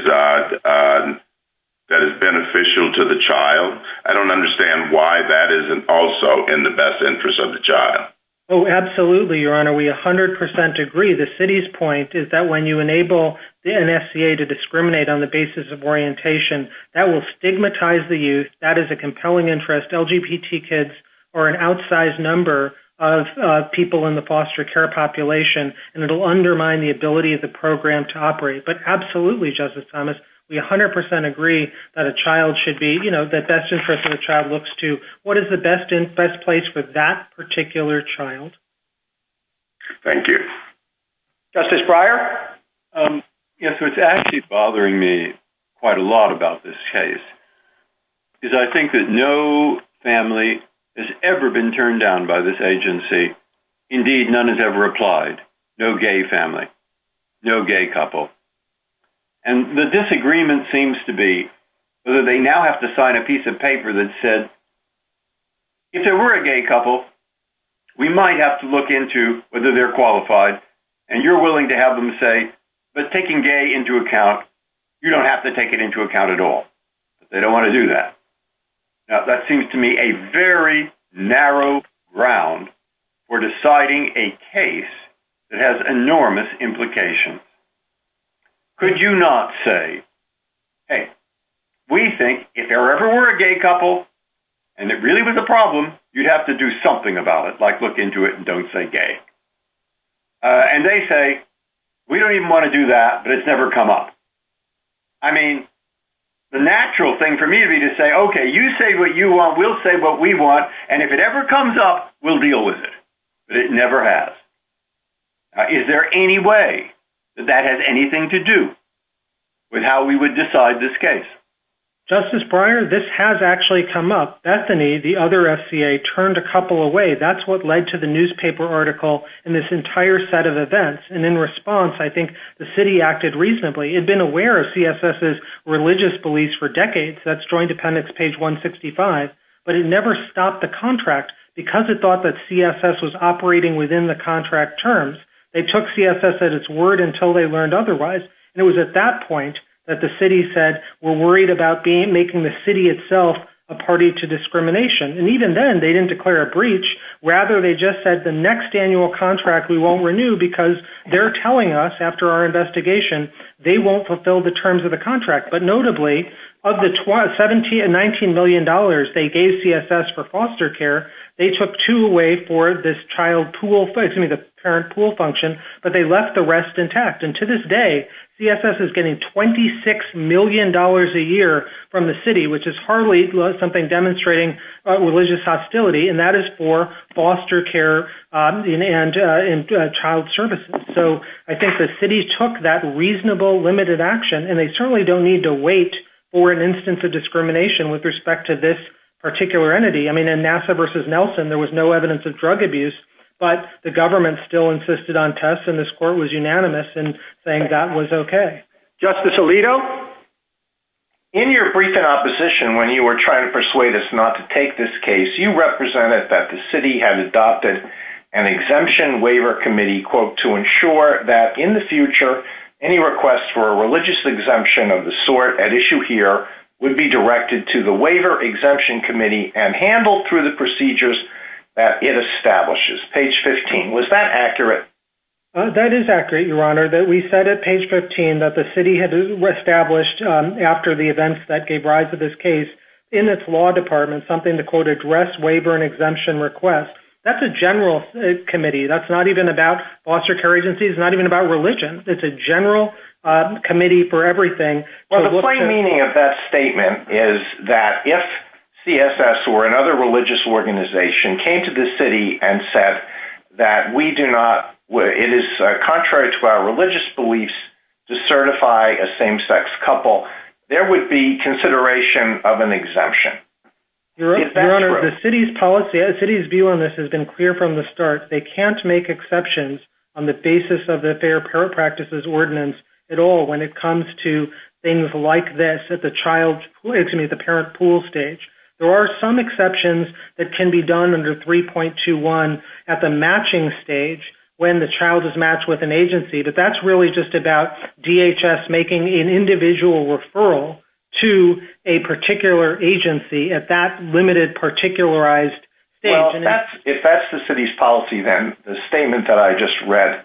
beneficial to the child? I don't understand why that isn't also in the best interest of the child. Oh, absolutely, Your Honor. We 100% agree. The city's point is that when you enable the NFCA to discriminate on the basis of orientation, that will stigmatize the youth. That is a compelling interest. LGBT kids are an outsized number of people in the foster care population. And it'll undermine the ability of the program to operate. Absolutely, Justice Thomas. We 100% agree that the best interest of the child looks to what is the best place for that particular child. Thank you. Justice Breyer? Yes, what's actually bothering me quite a lot about this case is I think that no family has ever been turned down by this agency. Indeed, none has ever applied. No gay family. No gay couple. And the disagreement seems to be whether they now have to sign a piece of paper that said, if there were a gay couple, we might have to look into whether they're qualified. And you're willing to have them say, but taking gay into account, you don't have to take it into account at all. They don't want to do that. Now, that seems to me a very narrow ground for deciding a case that has enormous implication. Could you not say, hey, we think if there ever were a gay couple, and it really was a problem, you'd have to do something about it, like look into it and don't say gay. And they say, we don't even want to do that, but it's never come up. I mean, the natural thing for me to say, okay, you say what you want, we'll say what we want. And if it ever comes up, we'll deal with it. But it never has. Is there any way that that has anything to do with how we would decide this case? Justice Breyer, this has actually come up. Bethany, the other SCA, turned a couple away. That's what led to the newspaper article and this entire set of events. And in response, I think the city acted reasonably. It had been aware of CSS's religious beliefs for decades. That's Joint Dependents, page 165. But it never stopped the contract because it thought that CSS was operating within the contract terms. They took CSS at its word until they learned otherwise. And it was at that point that the city said, we're worried about making the city itself a party to discrimination. And even then, they didn't declare a breach. Rather, they just said, the next annual contract we won't renew because they're telling us after our investigation, they won't fulfill the terms of the contract. But notably, of the $17 and $19 million they gave CSS for foster care, they took two away for this parent pool function, but they left the rest intact. And to this day, CSS is getting $26 million a year from the city, which is hardly something demonstrating religious hostility. And that is for foster care and child services. So I think the city took that reasonable, limited action. And they certainly don't need to wait for an instance of discrimination with respect to this particular entity. I mean, in NASA versus Nelson, there was no evidence of drug abuse. But the government still insisted on tests. And this court was unanimous in saying that was OK. Justice Alito? In your brief in opposition, when you were trying to persuade us not to take this case, you represented that the city had adopted an exemption waiver committee, quote, to ensure that in the future, any requests for a religious exemption of the sort at issue here would be directed to the waiver exemption committee and handled through the procedures that it establishes. Page 15. Was that accurate? That is accurate, Your Honor, that we said at page 15 that the city had established after the events that gave rise to this case in its law department something to, quote, address waiver and exemption requests. That's a general committee. That's not even about foster care agency. It's not even about religion. It's a general committee for everything. Well, the plain meaning of that statement is that if CSS or another religious organization came to the city and said that we do not, it is contrary to our religious beliefs to certify a same-sex couple, there would be consideration of an exemption. Your Honor, the city's policy, the city's view on this has been clear from the start. They can't make exceptions on the basis of the Fair Parent Practices Ordinance at all when it comes to things like this at the child's, excuse me, at the parent pool stage. There are some exceptions that can be done under 3.21 at the matching stage when the child is matched with an agency, but that's really just about DHS making an individual referral to a particular agency at that limited, particularized stage. If that's the city's policy, then the statement that I just read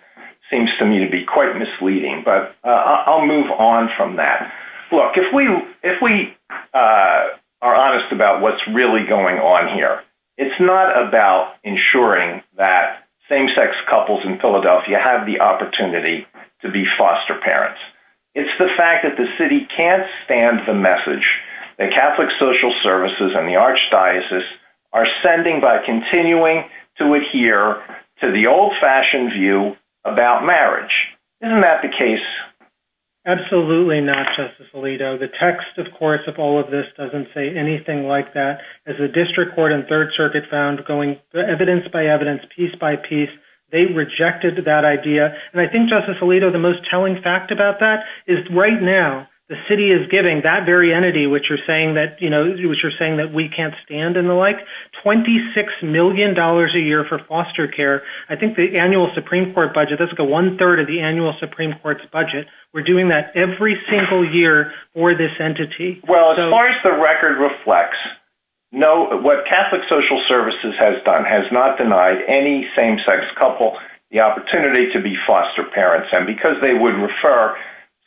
seems to me to be quite misleading, but I'll move on from that. Look, if we are honest about what's really going on here, it's not about ensuring that same-sex couples in Philadelphia have the opportunity to be foster parents. It's the fact that the city can't stand the message that Catholic Social Services and the Archdiocese are sending by continuing to adhere to the old-fashioned view about marriage. Isn't that the case? Absolutely not, Justice Alito. The text, of course, of all of this doesn't say anything like that. As the District Court and Third Circuit found evidence by evidence, piece by piece, they rejected that idea. I think, Justice Alito, the most telling fact about that is right now the city is giving that very entity, which you're saying that we can't stand and the like, $26 million a year for foster care. I think the annual Supreme Court budget, that's the one-third of the annual Supreme Court's budget, we're doing that every single year for this entity. Well, as far as the record reflects, no, what Catholic Social Services has done has not denied any same-sex couple the opportunity to be foster parents. Because they would refer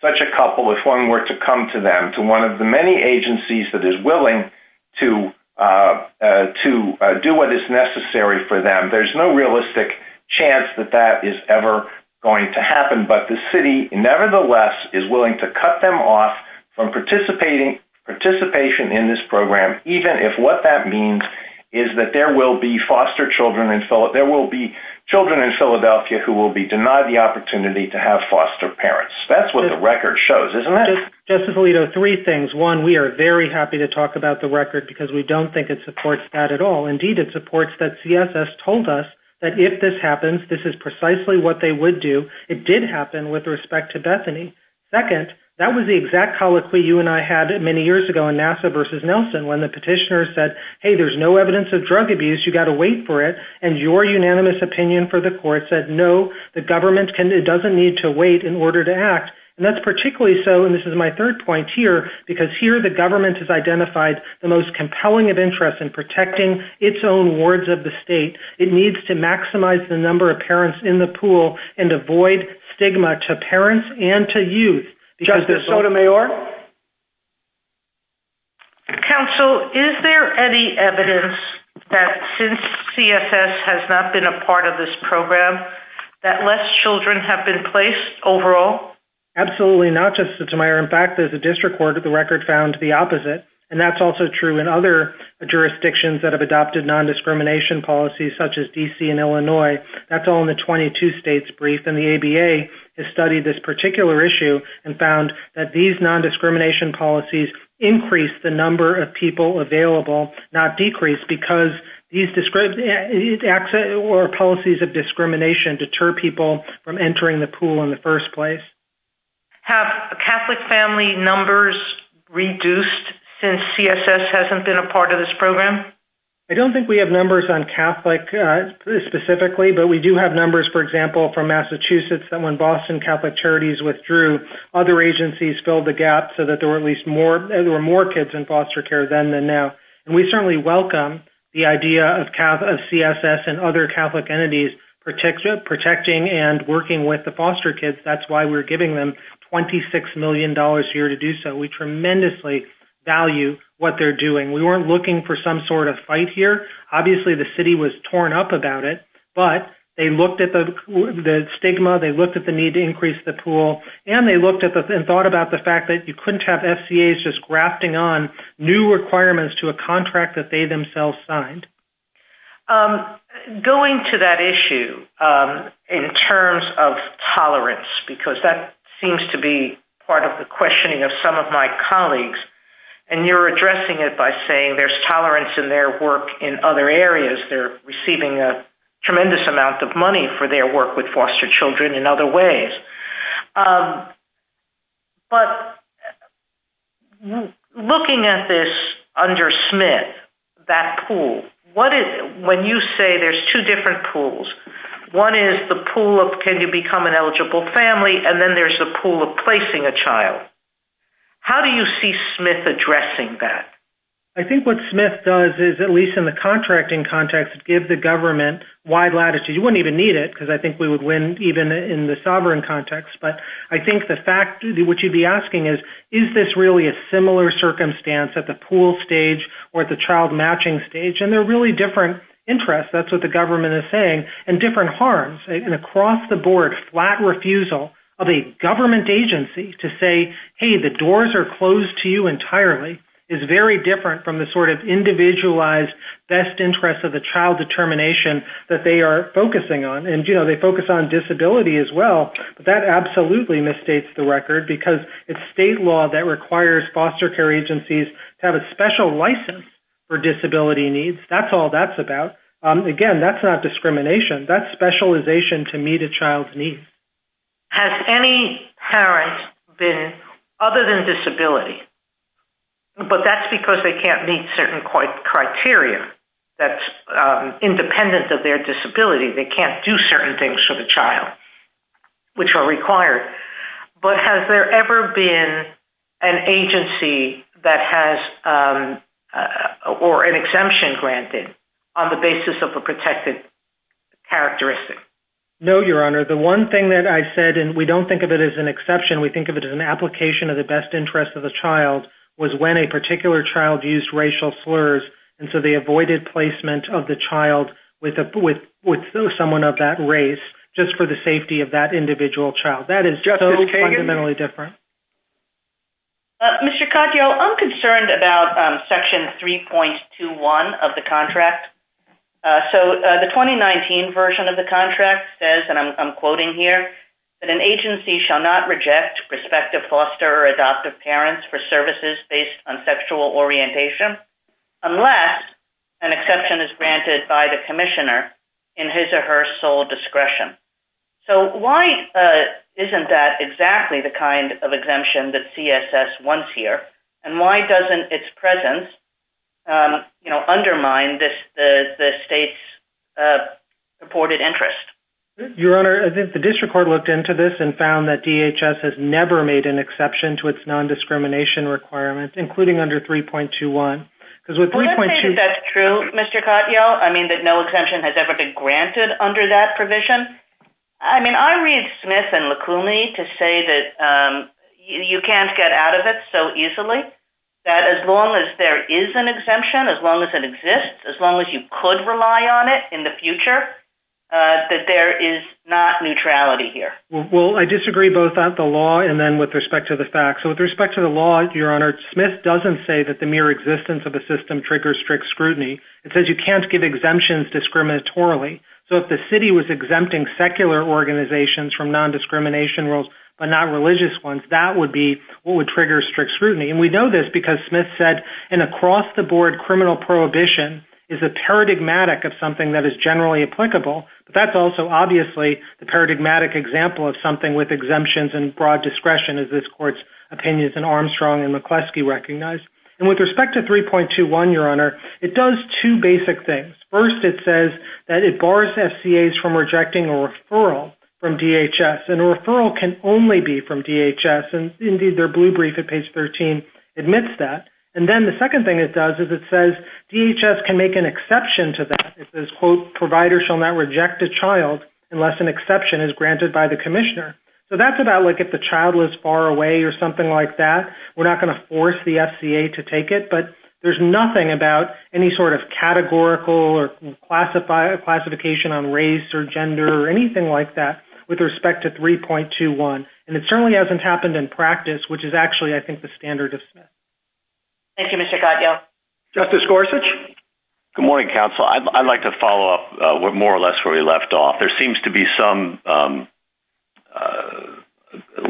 such a couple, if one were to come to them, to one of the many agencies that is willing to do what is necessary for them, there's no realistic chance that that is ever going to happen. But the city, nevertheless, is willing to cut them off from participation in this program, even if what that means is that there will be children in Philadelphia who will be denied the opportunity to have foster parents. That's what the record shows. Justice Alito, three things. One, we are very happy to talk about the record because we don't think it supports that at all. Indeed, it supports that CSS told us that if this happens, this is precisely what they would do. It did happen with respect to Bethany. Second, that was the exact colloquy you and I had many years ago on NASA versus Nelson, when the petitioner said, hey, there's no evidence of drug abuse, you got to wait for it. And your unanimous opinion for the court said, no, the government doesn't need to wait in order to act. And that's particularly so, and this is my third point here, because here the government has identified the most compelling of interest in protecting its own wards of the state. It needs to maximize the number of parents in the pool and avoid stigma to parents and to youth. Justice Sotomayor? Counsel, is there any evidence that since CSS has not been a part of this program, that less children have been placed overall? Absolutely not, Justice Sotomayor. In fact, there's a district court of the record found the opposite, and that's also true in other jurisdictions that have adopted non-discrimination policies, such as D.C. and Illinois. That's all in the 22 states brief, and the ABA has studied this particular issue and found that these non-discrimination policies increase the number of people available, not decrease, because these policies of discrimination deter people from entering the pool in the first place. Have Catholic family numbers reduced since CSS hasn't been a part of this program? I don't think we have numbers on Catholic specifically, but we do have numbers, for example, in Massachusetts that when Boston Catholic Charities withdrew, other agencies filled the gap so that there were at least more kids in foster care then than now. We certainly welcome the idea of CSS and other Catholic entities protecting and working with the foster kids. That's why we're giving them $26 million here to do so. We tremendously value what they're doing. We weren't looking for some sort of fight here. Obviously the city was torn up about it, but they looked at the stigma, they looked at the need to increase the pool, and they looked at and thought about the fact that you couldn't have SCAs just grafting on new requirements to a contract that they themselves signed. Going to that issue in terms of tolerance, because that seems to be part of the questioning of some of my colleagues, and you're addressing it by saying there's tolerance in their work in other areas. They're receiving a tremendous amount of money for their work with foster children in other ways. But looking at this under Smith, that pool, when you say there's two different pools, one is the pool of can you become an eligible family, and then there's a pool of placing a child. How do you see Smith addressing that? I think what Smith does is, at least in the contracting context, give the government wide latitude. You wouldn't even need it, because I think we would win even in the sovereign context. But I think the fact, what you'd be asking is, is this really a similar circumstance at the pool stage or at the child matching stage? And they're really different interests, that's what the government is saying, and different harms. And across the board, flat refusal of a government agency to say, hey, the doors are closed to you entirely, is very different from the sort of individualized best interest of the child determination that they are focusing on. And they focus on disability as well. That absolutely misstates the record, because it's state law that requires foster care agencies to have a special license for disability needs. That's all that's about. Again, that's not discrimination. That's specialization to meet a child's needs. Has any parent been, other than disability, but that's because they can't meet certain criteria that's independent of their disability. They can't do certain things for the child, which are required. But has there ever been an agency that has, or an exemption granted on the basis of a protected characteristic? No, Your Honor. The one thing that I said, and we don't think of it as an exception, we think of it as an application of the best interest of the child, was when a particular child used racial slurs, and so they avoided placement of the child with someone of that race, just for the safety of that individual child. That is so fundamentally different. Mr. Caccio, I'm concerned about Section 3.21 of the contract. So, the 2019 version of the contract says, and I'm quoting here, that an agency shall not reject prospective foster or adoptive parents for services based on sexual orientation unless an exception is granted by the commissioner in his or her sole discretion. So, why isn't that exactly the kind of exemption that CSS wants here? And why doesn't its presence undermine the state's reported interest? Your Honor, I think the district court looked into this and found that DHS has never made an exception to its non-discrimination requirements, including under 3.21. We don't think that's true, Mr. Caccio. I mean, that no exemption has ever been granted under that provision. I mean, I read Smith and Lacuni to say that you can't get out of it so easily, that as long as there is an exemption, as long as it exists, as long as you could rely on it in the future, that there is not neutrality here. Well, I disagree both at the law and then with respect to the facts. So, with respect to the law, Your Honor, Smith doesn't say that the mere existence of the system triggers strict scrutiny. It says you can't give exemptions discriminatorily. So, if the city was exempting secular organizations from non-discrimination rules, but not religious ones, that would be what would trigger strict scrutiny. And we know this because Smith said an across-the-board criminal prohibition is a paradigmatic of something that is generally applicable, but that's also obviously the paradigmatic example of something with exemptions and broad discretion, as this court's opinions and Armstrong and McCleskey recognized. And with respect to 3.21, Your Honor, it does two basic things. First, it says that it bars FCAs from rejecting a referral from DHS. And a referral can only be from DHS. And indeed, their blue brief at page 13 admits that. And then the second thing it does is it says DHS can make an exception to that. It says, quote, provider shall not reject a child unless an exception is granted by the commissioner. So, that's about like if the child was far away or something like that, we're not going to force the FCA to take it. But there's nothing about any sort of categorical or classification on race or gender or anything like that with respect to 3.21. And it certainly hasn't happened in practice, which is actually, I think, the standard of Smith. Thank you, Mr. Goddard. Justice Gorsuch? Good morning, counsel. I'd like to follow up with more or less where we left off. There seems to be some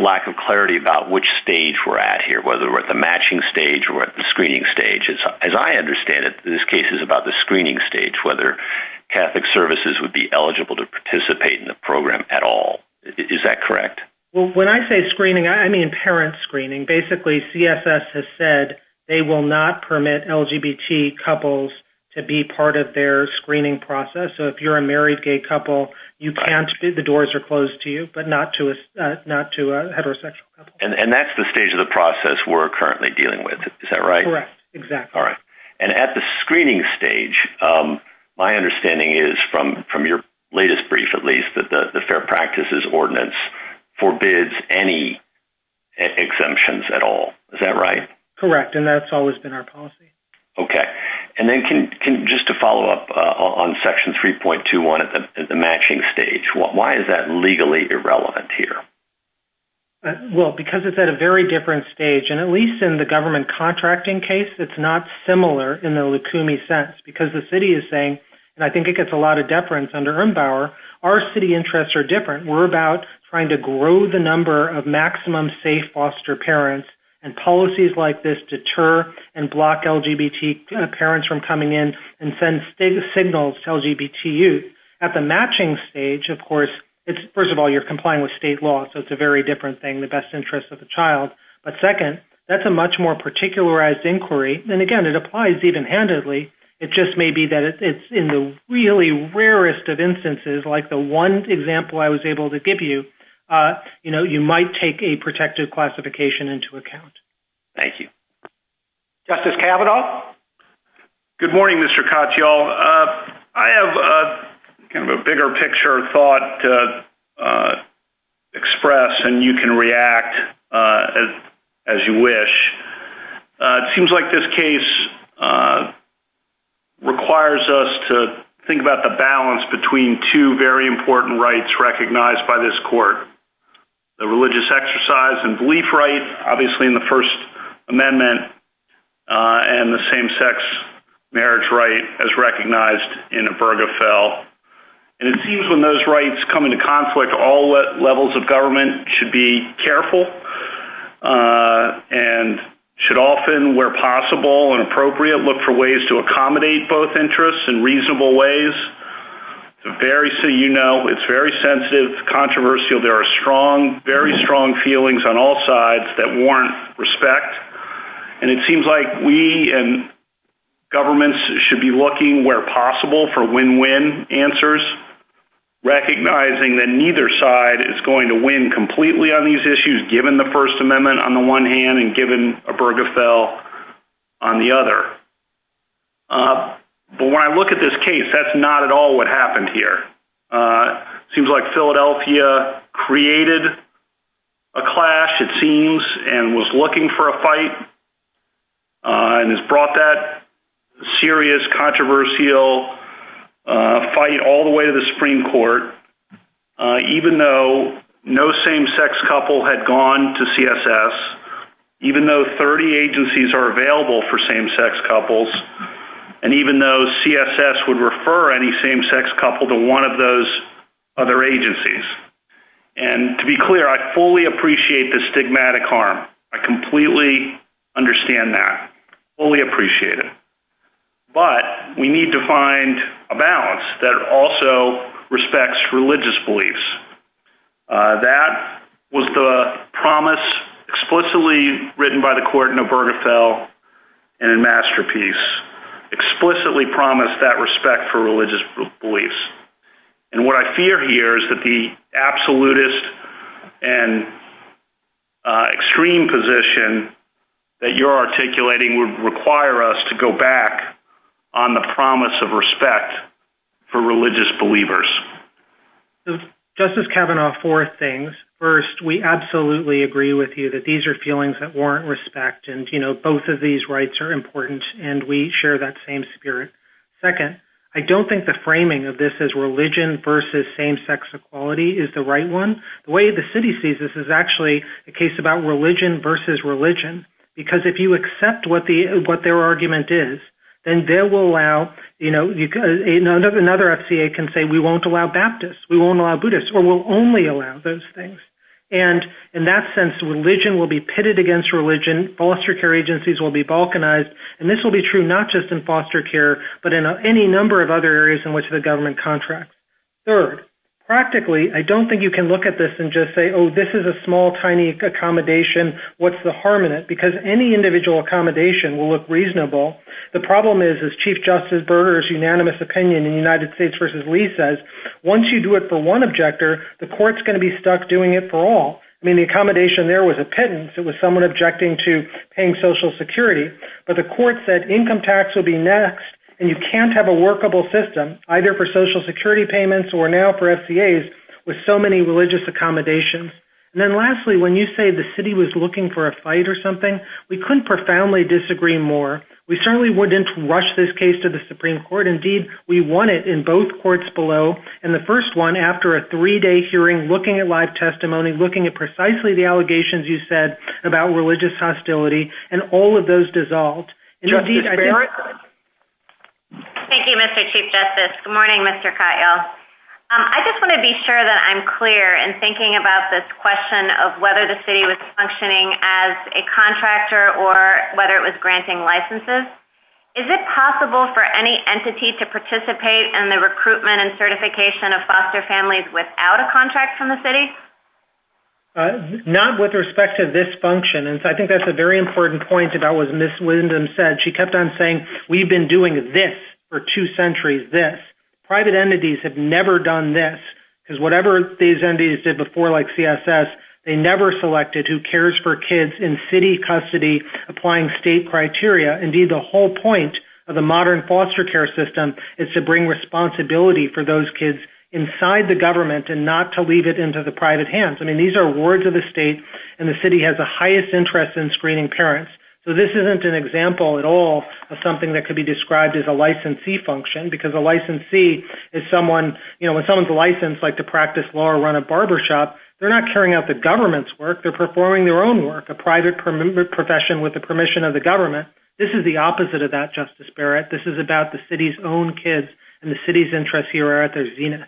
lack of clarity about which stage we're at here, whether we're at the matching stage or at the screening stage. As I understand it, this case is about the screening stage, whether Catholic services would be eligible to participate in the program at all. Is that correct? Well, when I say screening, I mean parent screening. Basically, CSS has said they will not permit LGBT couples to be part of their screening process. So, if you're a married gay couple, you can't. The doors are closed to you, but not to a heterosexual couple. And that's the stage of the process we're currently dealing with. Is that right? Correct. Exactly. All right. And at the screening stage, my understanding is, from your latest brief, at least, that the Fair Practices Ordinance forbids any exemptions at all. Is that right? Correct. And that's always been our policy. Okay. And then just to follow up on Section 3.21 at the matching stage, why is that legally irrelevant here? Well, because it's at a very different stage. And at least in the government contracting case, it's not similar in the Lukumi sense. Because the city is saying, and I think it gets a lot of deference under Urenbauer, our city interests are different. We're about trying to grow the number of maximum safe foster parents. And policies like this deter and block LGBT parents from coming in and send signals to LGBT youth. At the matching stage, of course, first of all, you're complying with state law. So it's a very different thing, the best interest of the child. But second, that's a much more particularized inquiry. And again, it applies even-handedly. It just may be that it's in the really rarest of instances, like the one example I was able to give you, you might take a protective classification into account. Thank you. Justice Kavanaugh? Good morning, Mr. Katyal. I have a bigger picture of thought to express, and you can react as you wish. It seems like this case requires us to think about the balance between two very important rights recognized by this court. The religious exercise and belief right, obviously, in the First Amendment. And the same-sex marriage right, as recognized in Obergefell. And it seems when those rights come into conflict, all levels of government should be careful and should often, where possible and appropriate, look for ways to accommodate both interests in reasonable ways. You know, it's very sensitive, controversial. There are strong, very strong feelings on all sides that warrant respect. And it seems like we and governments should be looking, where possible, for win-win answers, recognizing that neither side is going to win completely on these issues, given the First Amendment on the one hand and given Obergefell on the other. But when I look at this case, that's not at all what happened here. It seems like Philadelphia created a clash, it seems, and was looking for a fight. And it's brought that serious, controversial fight all the way to the Supreme Court, even though no same-sex couple had gone to CSS, even though 30 agencies are available for same-sex couples, and even though CSS would refer any same-sex couple to one of those other agencies. And to be clear, I fully appreciate the stigmatic harm. I completely understand that. Fully appreciate it. But we need to find a balance that also respects religious beliefs. That was the promise explicitly written by the court in Obergefell in a masterpiece, explicitly promised that respect for religious beliefs. And what I fear here is that the absolutist and extreme position that you're articulating would require us to go back on the promise of respect for religious believers. So Justice Kavanaugh, four things. First, we absolutely agree with you that these are feelings that warrant respect, and both of these rights are important, and we share that same spirit. Second, I don't think the framing of this as religion versus same-sex equality is the right one. The way the city sees this is actually a case about religion versus religion, because if you accept what their argument is, then they will allow, you know, another FCA can say, we won't allow Baptists, we won't allow Buddhists, or we'll only allow those things. And in that sense, religion will be pitted against religion. Foster care agencies will be balkanized. And this will be true not just in foster care, but in any number of other areas in which the government contracts. Third, practically, I don't think you can look at this and just say, oh, this is a small, tiny accommodation. What's the harm in it? Because any individual accommodation will look reasonable. The problem is, as Chief Justice Berger's unanimous opinion in the United States versus Lee says, once you do it for one objector, the court's going to be stuck doing it for all. I mean, the accommodation there was a pittance. It was someone objecting to paying Social Security. But the court said income tax would be next, and you can't have a workable system, either for Social Security payments or now for FCAs, with so many religious accommodations. And then lastly, when you say the city was looking for a fight or something, we couldn't profoundly disagree more. We certainly wouldn't rush this case to the Supreme Court. Indeed, we won it in both courts below. And the first one, after a three-day hearing, looking at live testimony, looking at precisely the allegations you said about religious hostility, and all of those dissolved. Thank you, Mr. Chief Justice. Good morning, Mr. Katyal. I just want to be sure that I'm clear in thinking about this question of whether the city was functioning as a contractor or whether it was granting licenses. Is it possible for any entity to participate in the recruitment and certification of foster families without a contract from the city? Not with respect to this function. And so I think that's a very important point about what Ms. Linden said. She kept on saying, we've been doing this for two centuries, this. Private entities have never done this. Because whatever these entities did before, like CSS, they never selected who cares for kids in city custody applying state criteria. Indeed, the whole point of the modern foster care system is to bring responsibility for the private hands. I mean, these are wards of the state, and the city has the highest interest in screening parents. So this isn't an example at all of something that could be described as a licensee function, because a licensee is someone, you know, when someone's licensed, like to practice law or run a barbershop, they're not carrying out the government's work, they're performing their own work, a private profession with the permission of the government. This is the opposite of that, Justice Barrett. This is about the city's own kids, and the city's interests here are at their zenith.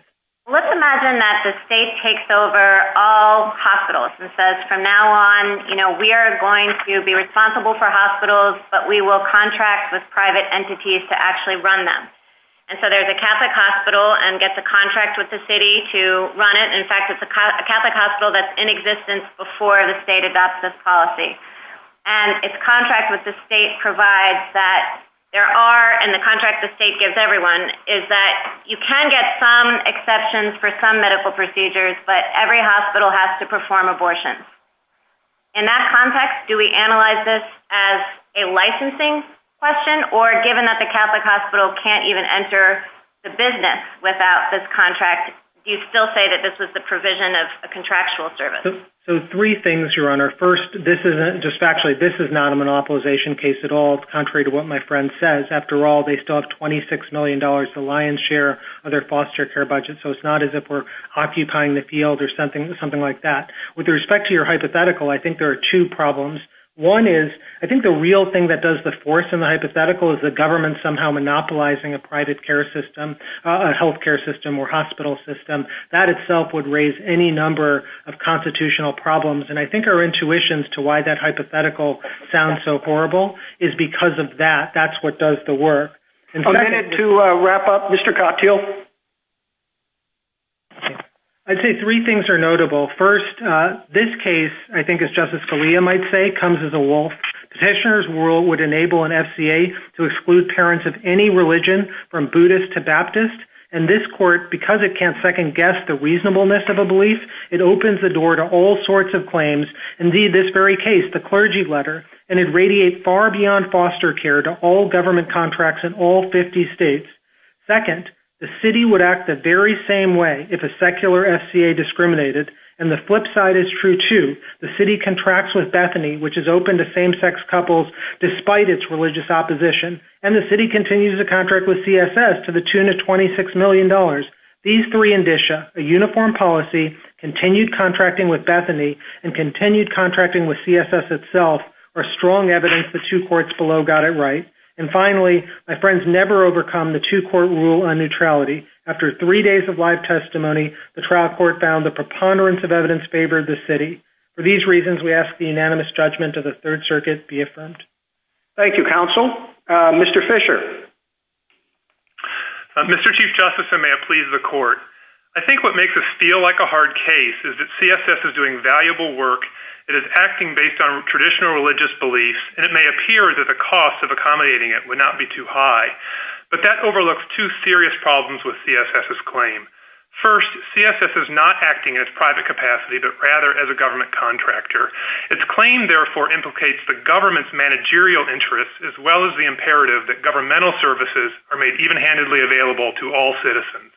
Let's imagine that the state takes over all hospitals and says, from now on, you know, we are going to be responsible for hospitals, but we will contract with private entities to actually run them. And so there's a Catholic hospital and gets a contract with the city to run it. In fact, it's a Catholic hospital that's in existence before the state adopts this policy. And its contract with the state provides that there are, and the contract the state gives everyone, is that you can get some exceptions for some medical procedures, but every hospital has to perform abortions. In that context, do we analyze this as a licensing question? Or given that the Catholic hospital can't even enter the business without this contract, do you still say that this was the provision of a contractual service? So three things, Your Honor. First, this isn't, just factually, this is not a monopolization case at all. Contrary to what my friend says, after all, they still have $26 million to lion's share of their foster care budget. So it's not as if we're occupying the field or something like that. With respect to your hypothetical, I think there are two problems. One is, I think the real thing that does the force in the hypothetical is the government somehow monopolizing a private care system, a healthcare system or hospital system. That itself would raise any number of constitutional problems. And I think our intuitions to why that hypothetical sounds so horrible is because of that. That's what does the work. I'm going to wrap up. Mr. Cocktail? I'd say three things are notable. First, this case, I think as Justice Scalia might say, comes as a wolf. Petitioner's rule would enable an FCA to exclude parents of any religion from Buddhist to Baptist. And this court, because it can't second guess the reasonableness of a belief, it opens the claims, indeed this very case, the clergy letter, and it radiates far beyond foster care to all government contracts in all 50 states. Second, the city would act the very same way if a secular FCA discriminated. And the flip side is true, too. The city contracts with Bethany, which is open to same-sex couples despite its religious opposition. And the city continues to contract with CSS to the tune of $26 million. These three indicia, a uniform policy, continued contracting with Bethany, and continued contracting with CSS itself, are strong evidence the two courts below got it right. And finally, my friends, never overcome the two-court rule on neutrality. After three days of live testimony, the trial court found the preponderance of evidence favored the city. For these reasons, we ask the unanimous judgment of the Third Circuit be affirmed. Thank you, counsel. Mr. Fisher? Mr. Chief Justice, and may it please the court, I think what makes this feel like a hard case is that CSS is doing valuable work. It is acting based on traditional religious beliefs. And it may appear that the cost of accommodating it would not be too high. But that overlooks two serious problems with CSS's claim. First, CSS is not acting in its private capacity, but rather as a government contractor. Its claim, therefore, implicates the government's managerial interests as well as the imperative that governmental services are made even-handedly available to all citizens.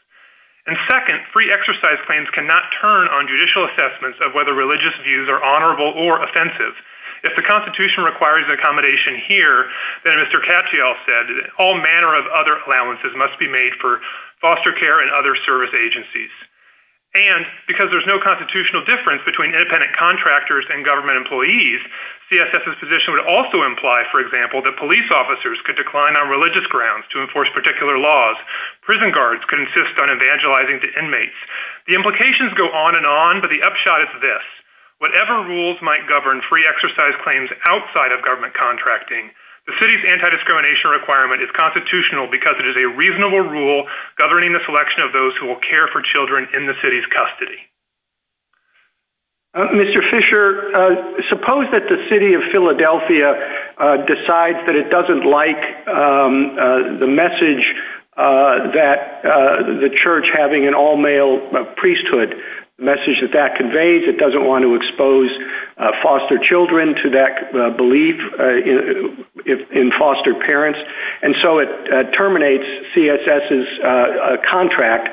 And second, free exercise claims cannot turn on judicial assessments of whether religious views are honorable or offensive. If the Constitution requires accommodation here, then Mr. Katyal said that all manner of other allowances must be made for foster care and other service agencies. And because there's no constitutional difference between independent contractors and government employees, CSS's position would also imply, for example, that police officers could decline on religious grounds to enforce particular laws. Prison guards could insist on evangelizing to inmates. The implications go on and on, but the upshot is this. Whatever rules might govern free exercise claims outside of government contracting, the city's anti-discrimination requirement is constitutional because it is a reasonable rule governing the selection of those who will care for children in the city's custody. Mr. Fischer, suppose that the city of Philadelphia decides that it doesn't like the message that the church having an all-male priesthood, the message that that conveys, it doesn't want to expose foster children to that belief in foster parents, and so it terminates CSS's contract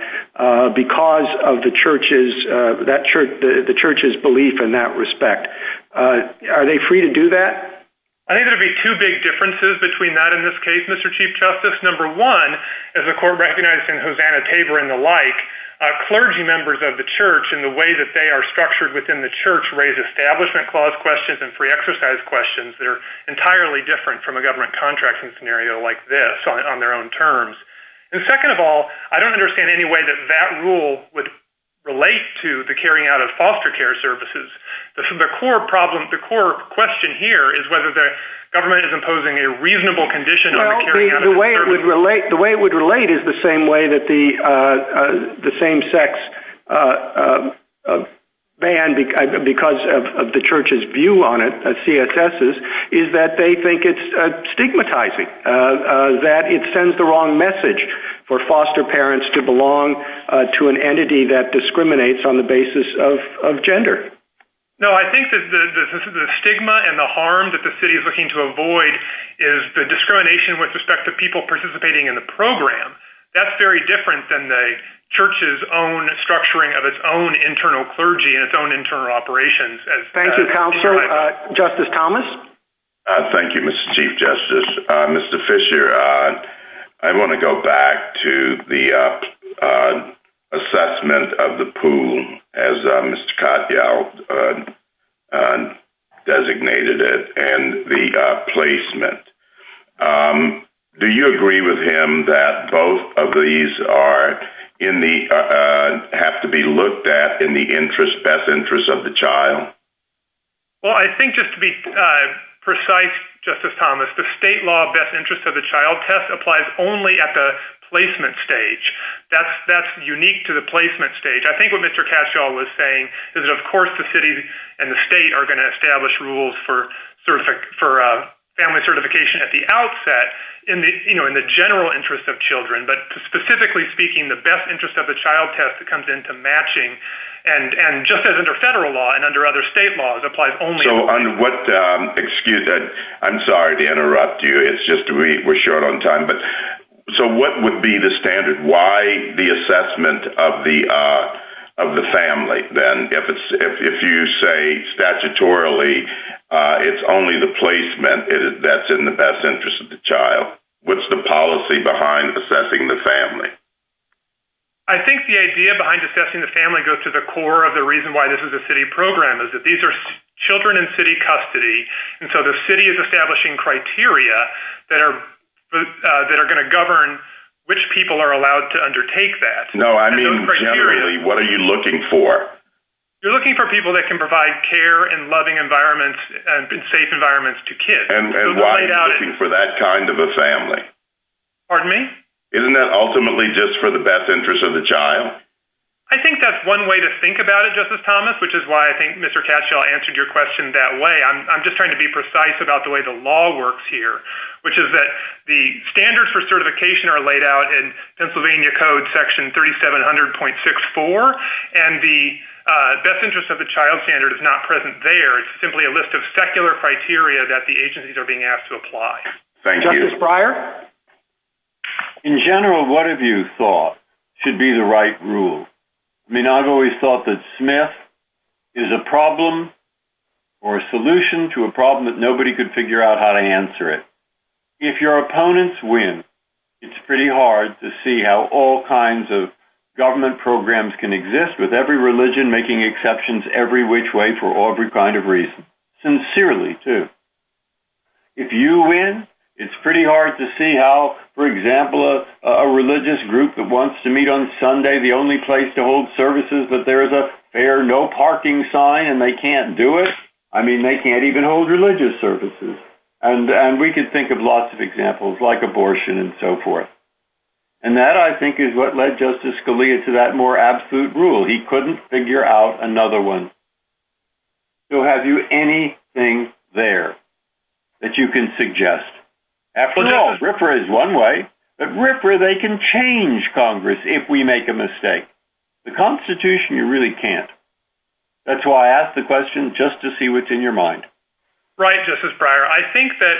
because of the church's belief in that respect. Are they free to do that? I think there would be two big differences between that and this case, Mr. Chief Justice. Number one, as the court recognized in Hosanna-Tabor and the like, clergy members of the church and the way that they are structured within the church raise establishment clause questions and free exercise questions that are entirely different from a government contracting scenario like this on their own terms. And second of all, I don't understand any way that that rule would relate to the carrying out of foster care services. The core problem, the core question here is whether the government is imposing a reasonable condition on the carrying out of the services. The way it would relate is the same way that the same-sex ban, because of the church's view on it, CSS's, is that they think it's stigmatizing, that it sends the wrong message for foster parents to belong to an entity that discriminates on the basis of gender. No, I think that the stigma and the harm that the city is looking to avoid is the discrimination with respect to people participating in the program. That's very different than the church's own structuring of its own internal clergy and its own internal operations. Thank you, Counselor. Justice Thomas? Thank you, Mr. Chief Justice. Mr. Fisher, I want to go back to the assessment of the pool as Mr. Katyal designated it and the placement. Do you agree with him that both of these have to be looked at in the best interest of the child? Well, I think just to be precise, Justice Thomas, the state law best interest of the child test applies only at the placement stage. That's unique to the placement stage. I think what Mr. Katyal was saying is that, of course, the city and the state are going to establish rules for family certification at the outset in the general interest of children, but specifically speaking, the best interest of the child test comes into matching. Justice, under federal law and under other state laws, applies only— So, on what—excuse me. I'm sorry to interrupt you. It's just we're short on time. So, what would be the standard? Why the assessment of the family? Then, if you say statutorily it's only the placement that's in the best interest of the child, what's the policy behind assessing the family? I think the idea behind assessing the family goes to the core of the reason why this is a city program, is that these are children in city custody, and so the city is establishing criteria that are going to govern which people are allowed to undertake that. No, I mean, generally, what are you looking for? You're looking for people that can provide care and loving environments and safe environments to kids. And why are you looking for that kind of a family? Pardon me? Isn't that ultimately just for the best interest of the child? I think that's one way to think about it, Justice Thomas, which is why I think Mr. Cashaw answered your question that way. I'm just trying to be precise about the way the law works here, which is that the standards for certification are laid out in Pennsylvania Code Section 3700.64, and the best interest of the child standard is not present there. It's simply a list of secular criteria that the agencies are being asked to apply. Thank you. Justice Breyer? In general, what have you thought should be the right rule? I mean, I've always thought that Smith is a problem or a solution to a problem that nobody could figure out how to answer it. If your opponents win, it's pretty hard to see how all kinds of government programs can exist with every religion making exceptions every which way for every kind of reason. Sincerely, too. If you win, it's pretty hard to see how, for example, a religious group that wants to meet on Sunday, the only place to hold services, that there is a fair no parking sign and they can't do it. I mean, they can't even hold religious services. And we could think of lots of examples like abortion and so forth. And that, I think, is what led Justice Scalia to that more absolute rule. He couldn't figure out another one. So, have you anything there? That you can suggest? After all, RFRA is one way. But RFRA, they can change Congress if we make a mistake. The Constitution, you really can't. That's why I asked the question, just to see what's in your mind. Right, Justice Breyer. I think that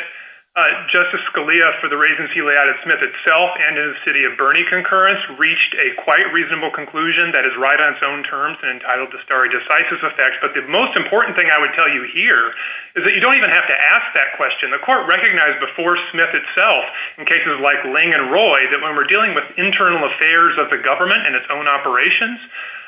Justice Scalia, for the reasons he laid out of Smith itself and in the city of Bernie concurrence, reached a quite reasonable conclusion that is right on its own terms and entitled to stare decisis effect. But the most important thing I would tell you here is that you don't even have to ask that question. The court recognized before Smith itself, in cases like Lange and Roy, that when we're dealing with internal affairs of the government and its own operations,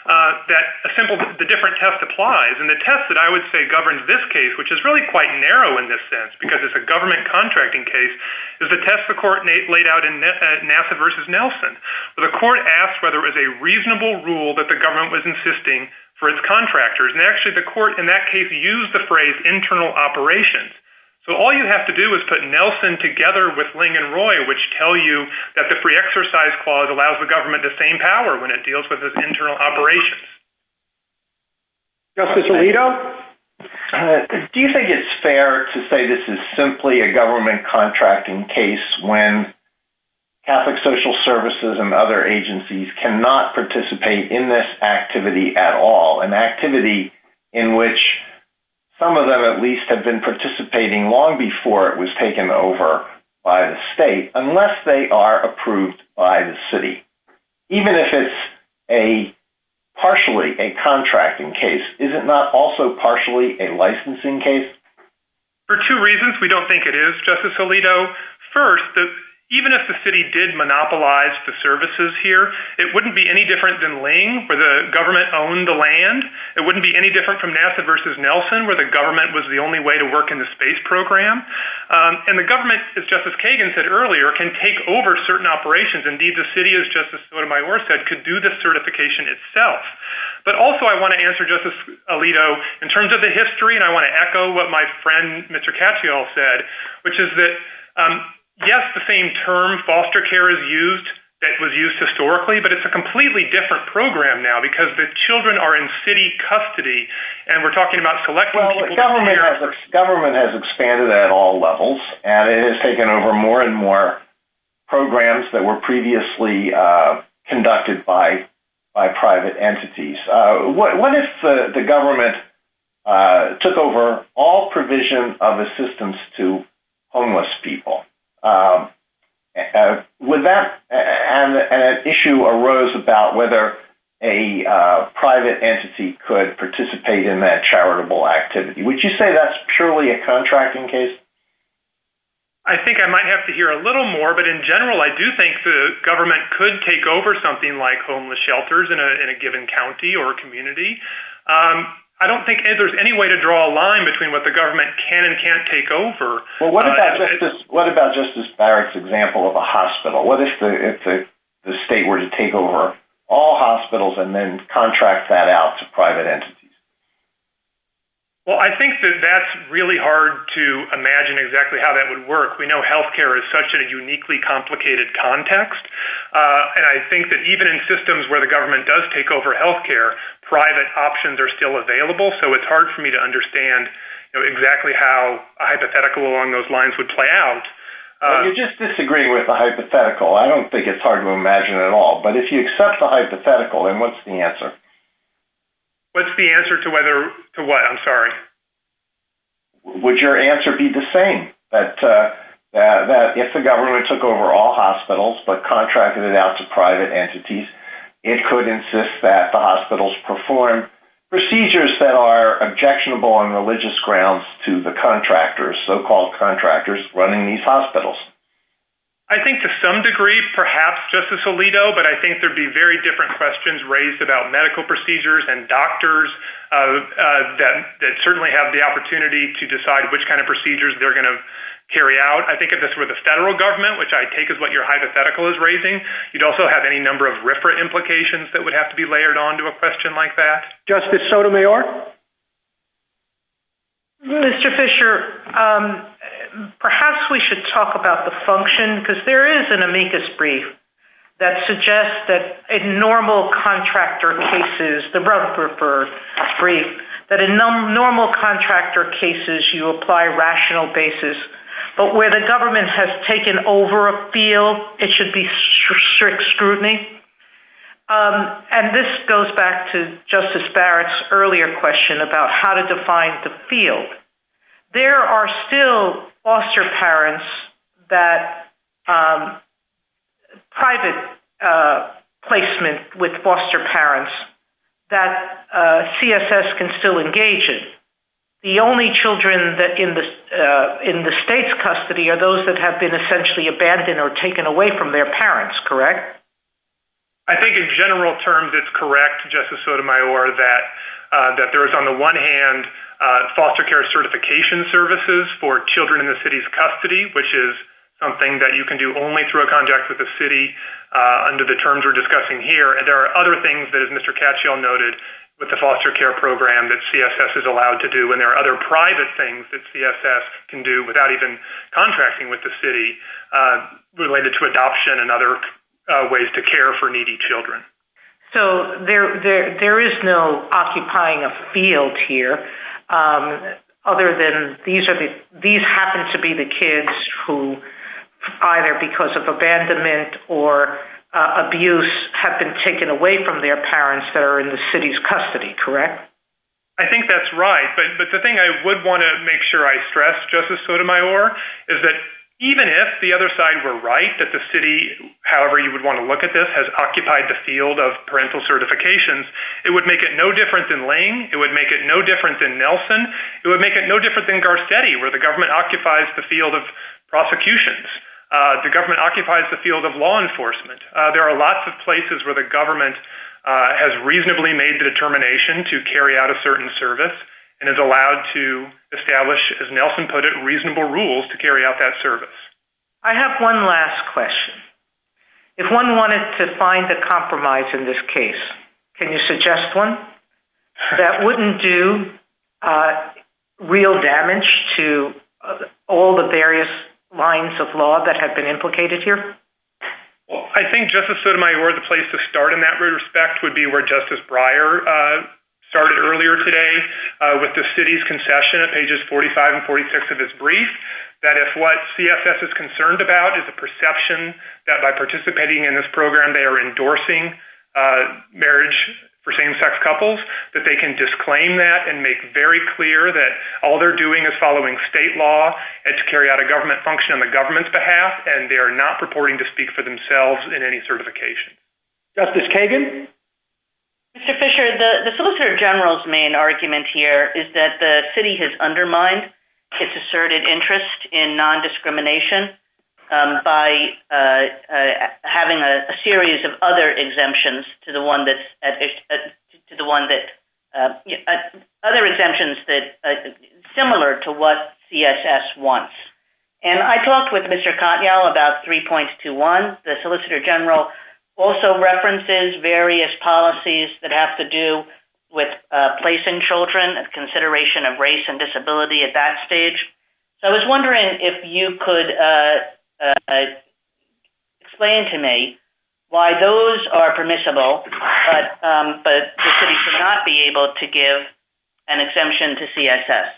the different test applies. And the test that I would say governs this case, which is really quite narrow in this sense, because it's a government contracting case, is the test the court laid out in NASA versus Nelson, where the court asked whether it was a reasonable rule that the government was insisting for its contractors. Actually, the court, in that case, used the phrase internal operations. So all you have to do is put Nelson together with Lange and Roy, which tell you that the pre-exercise clause allows the government the same power when it deals with its internal operations. Justice Alito, do you think it's fair to say this is simply a government contracting case when Catholic social services and other agencies cannot participate in this activity at all? An activity in which some of them at least have been participating long before it was taken over by the state, unless they are approved by the city. Even if it's partially a contracting case, is it not also partially a licensing case? For two reasons we don't think it is, Justice Alito. First, even if the city did monopolize the services here, it wouldn't be any different than Lange, where the government owned the land. It wouldn't be any different from NASA versus Nelson, where the government was the only way to work in the space program. And the government, as Justice Kagan said earlier, can take over certain operations. Indeed, the city, as Justice Sotomayor said, could do the certification itself. But also, I want to answer Justice Alito in terms of the history, and I want to echo what my friend Mr. Katyal said, which is that yes, the same term foster care is used that was used in the city, but it's a completely different program now, because the children are in city custody, and we're talking about select... Well, the government has expanded at all levels, and it has taken over more and more programs that were previously conducted by private entities. What if the government took over all provision of assistance to homeless people? Would that issue arose about whether a private entity could participate in that charitable activity? Would you say that's purely a contracting case? I think I might have to hear a little more, but in general, I do think the government could take over something like homeless shelters in a given county or community. I don't think there's any way to draw a line between what the government can and can't take over. Well, what about Justice Barrett's example of a hospital? What if the state were to take over all hospitals and then contract that out to private entities? Well, I think that that's really hard to imagine exactly how that would work. We know healthcare is such a uniquely complicated context, and I think that even in systems where the government does take over healthcare, private options are still available, so it's hard to imagine how a hypothetical along those lines would play out. I'm just disagreeing with the hypothetical. I don't think it's hard to imagine at all. But if you accept the hypothetical, then what's the answer? What's the answer to what? I'm sorry. Would your answer be the same? If the government took over all hospitals but contracted it out to private entities, it could insist that the hospitals perform procedures that are objectionable on religious grounds to the contractors, so-called contractors running these hospitals. I think to some degree, perhaps, Justice Alito, but I think there'd be very different questions raised about medical procedures and doctors that certainly have the opportunity to decide which kind of procedures they're going to carry out. I think if this were the federal government, which I take as what your hypothetical is raising, you'd also have any number of RFRA implications that would have to be layered onto a question like that. Justice Sotomayor? Mr. Fischer, perhaps we should talk about the function, because there is an amicus brief that suggests that in normal contractor cases, the Rutger brief, that in normal contractor cases, you apply rational basis. But where the government has taken over a field, it should be strict scrutiny. And this goes back to Justice Barrett's earlier question about how to define the field. There are still private placement with foster parents that CSS can still engage in. The only children in the state's custody are those that have been essentially abandoned or taken away from their parents, correct? I think, in general terms, it's correct, Justice Sotomayor, that there is, on the one hand, foster care certification services for children in the city's custody, which is something that you can do only through a contract with the city under the terms we're discussing here. There are other things that, as Mr. Katyal noted, with the foster care program that CSS is allowed to do. And there are other private things that CSS can do without even contracting with the city related to adoption and other ways to care for needy children. So there is no occupying a field here, other than these happen to be the kids who, either because of abandonment or abuse, have been taken away from their parents that are in the city's custody, correct? I think that's right. But the thing I would want to make sure I stress, Justice Sotomayor, is that even if the other side were right, that the city, however you would want to look at this, has occupied the field of parental certifications, it would make it no different than Lane. It would make it no different than Nelson. It would make it no different than Garcetti, where the government occupies the field of prosecutions. The government occupies the field of law enforcement. There are lots of places where the government has reasonably made the determination to carry out a certain service and is allowed to establish, as Nelson put it, reasonable rules to carry out that service. I have one last question. If one wanted to find a compromise in this case, can you suggest one that wouldn't do real damage to all the various lines of law that have been implicated here? Well, I think Justice Sotomayor, the place to start in that respect, would be where Justice Fisher said earlier today, with the city's concession at pages 45 and 46 of its brief, that if what CFS is concerned about is the perception that by participating in this program they are endorsing marriage for same-sex couples, that they can disclaim that and make very clear that all they're doing is following state law and to carry out a government function on the government's behalf, and they are not purporting to speak for themselves in any certification. Justice Kagan? Mr. Fisher, the Solicitor General's main argument here is that the city has undermined its asserted interest in non-discrimination by having a series of other exemptions to the one that—other exemptions that are similar to what CSS wants. And I talked with Mr. Cottingall about 3.21. The Solicitor General also references various policies that have to do with place in children and consideration of race and disability at that stage. So I was wondering if you could explain to me why those are permissible, but the city should not be able to give an exemption to CSS.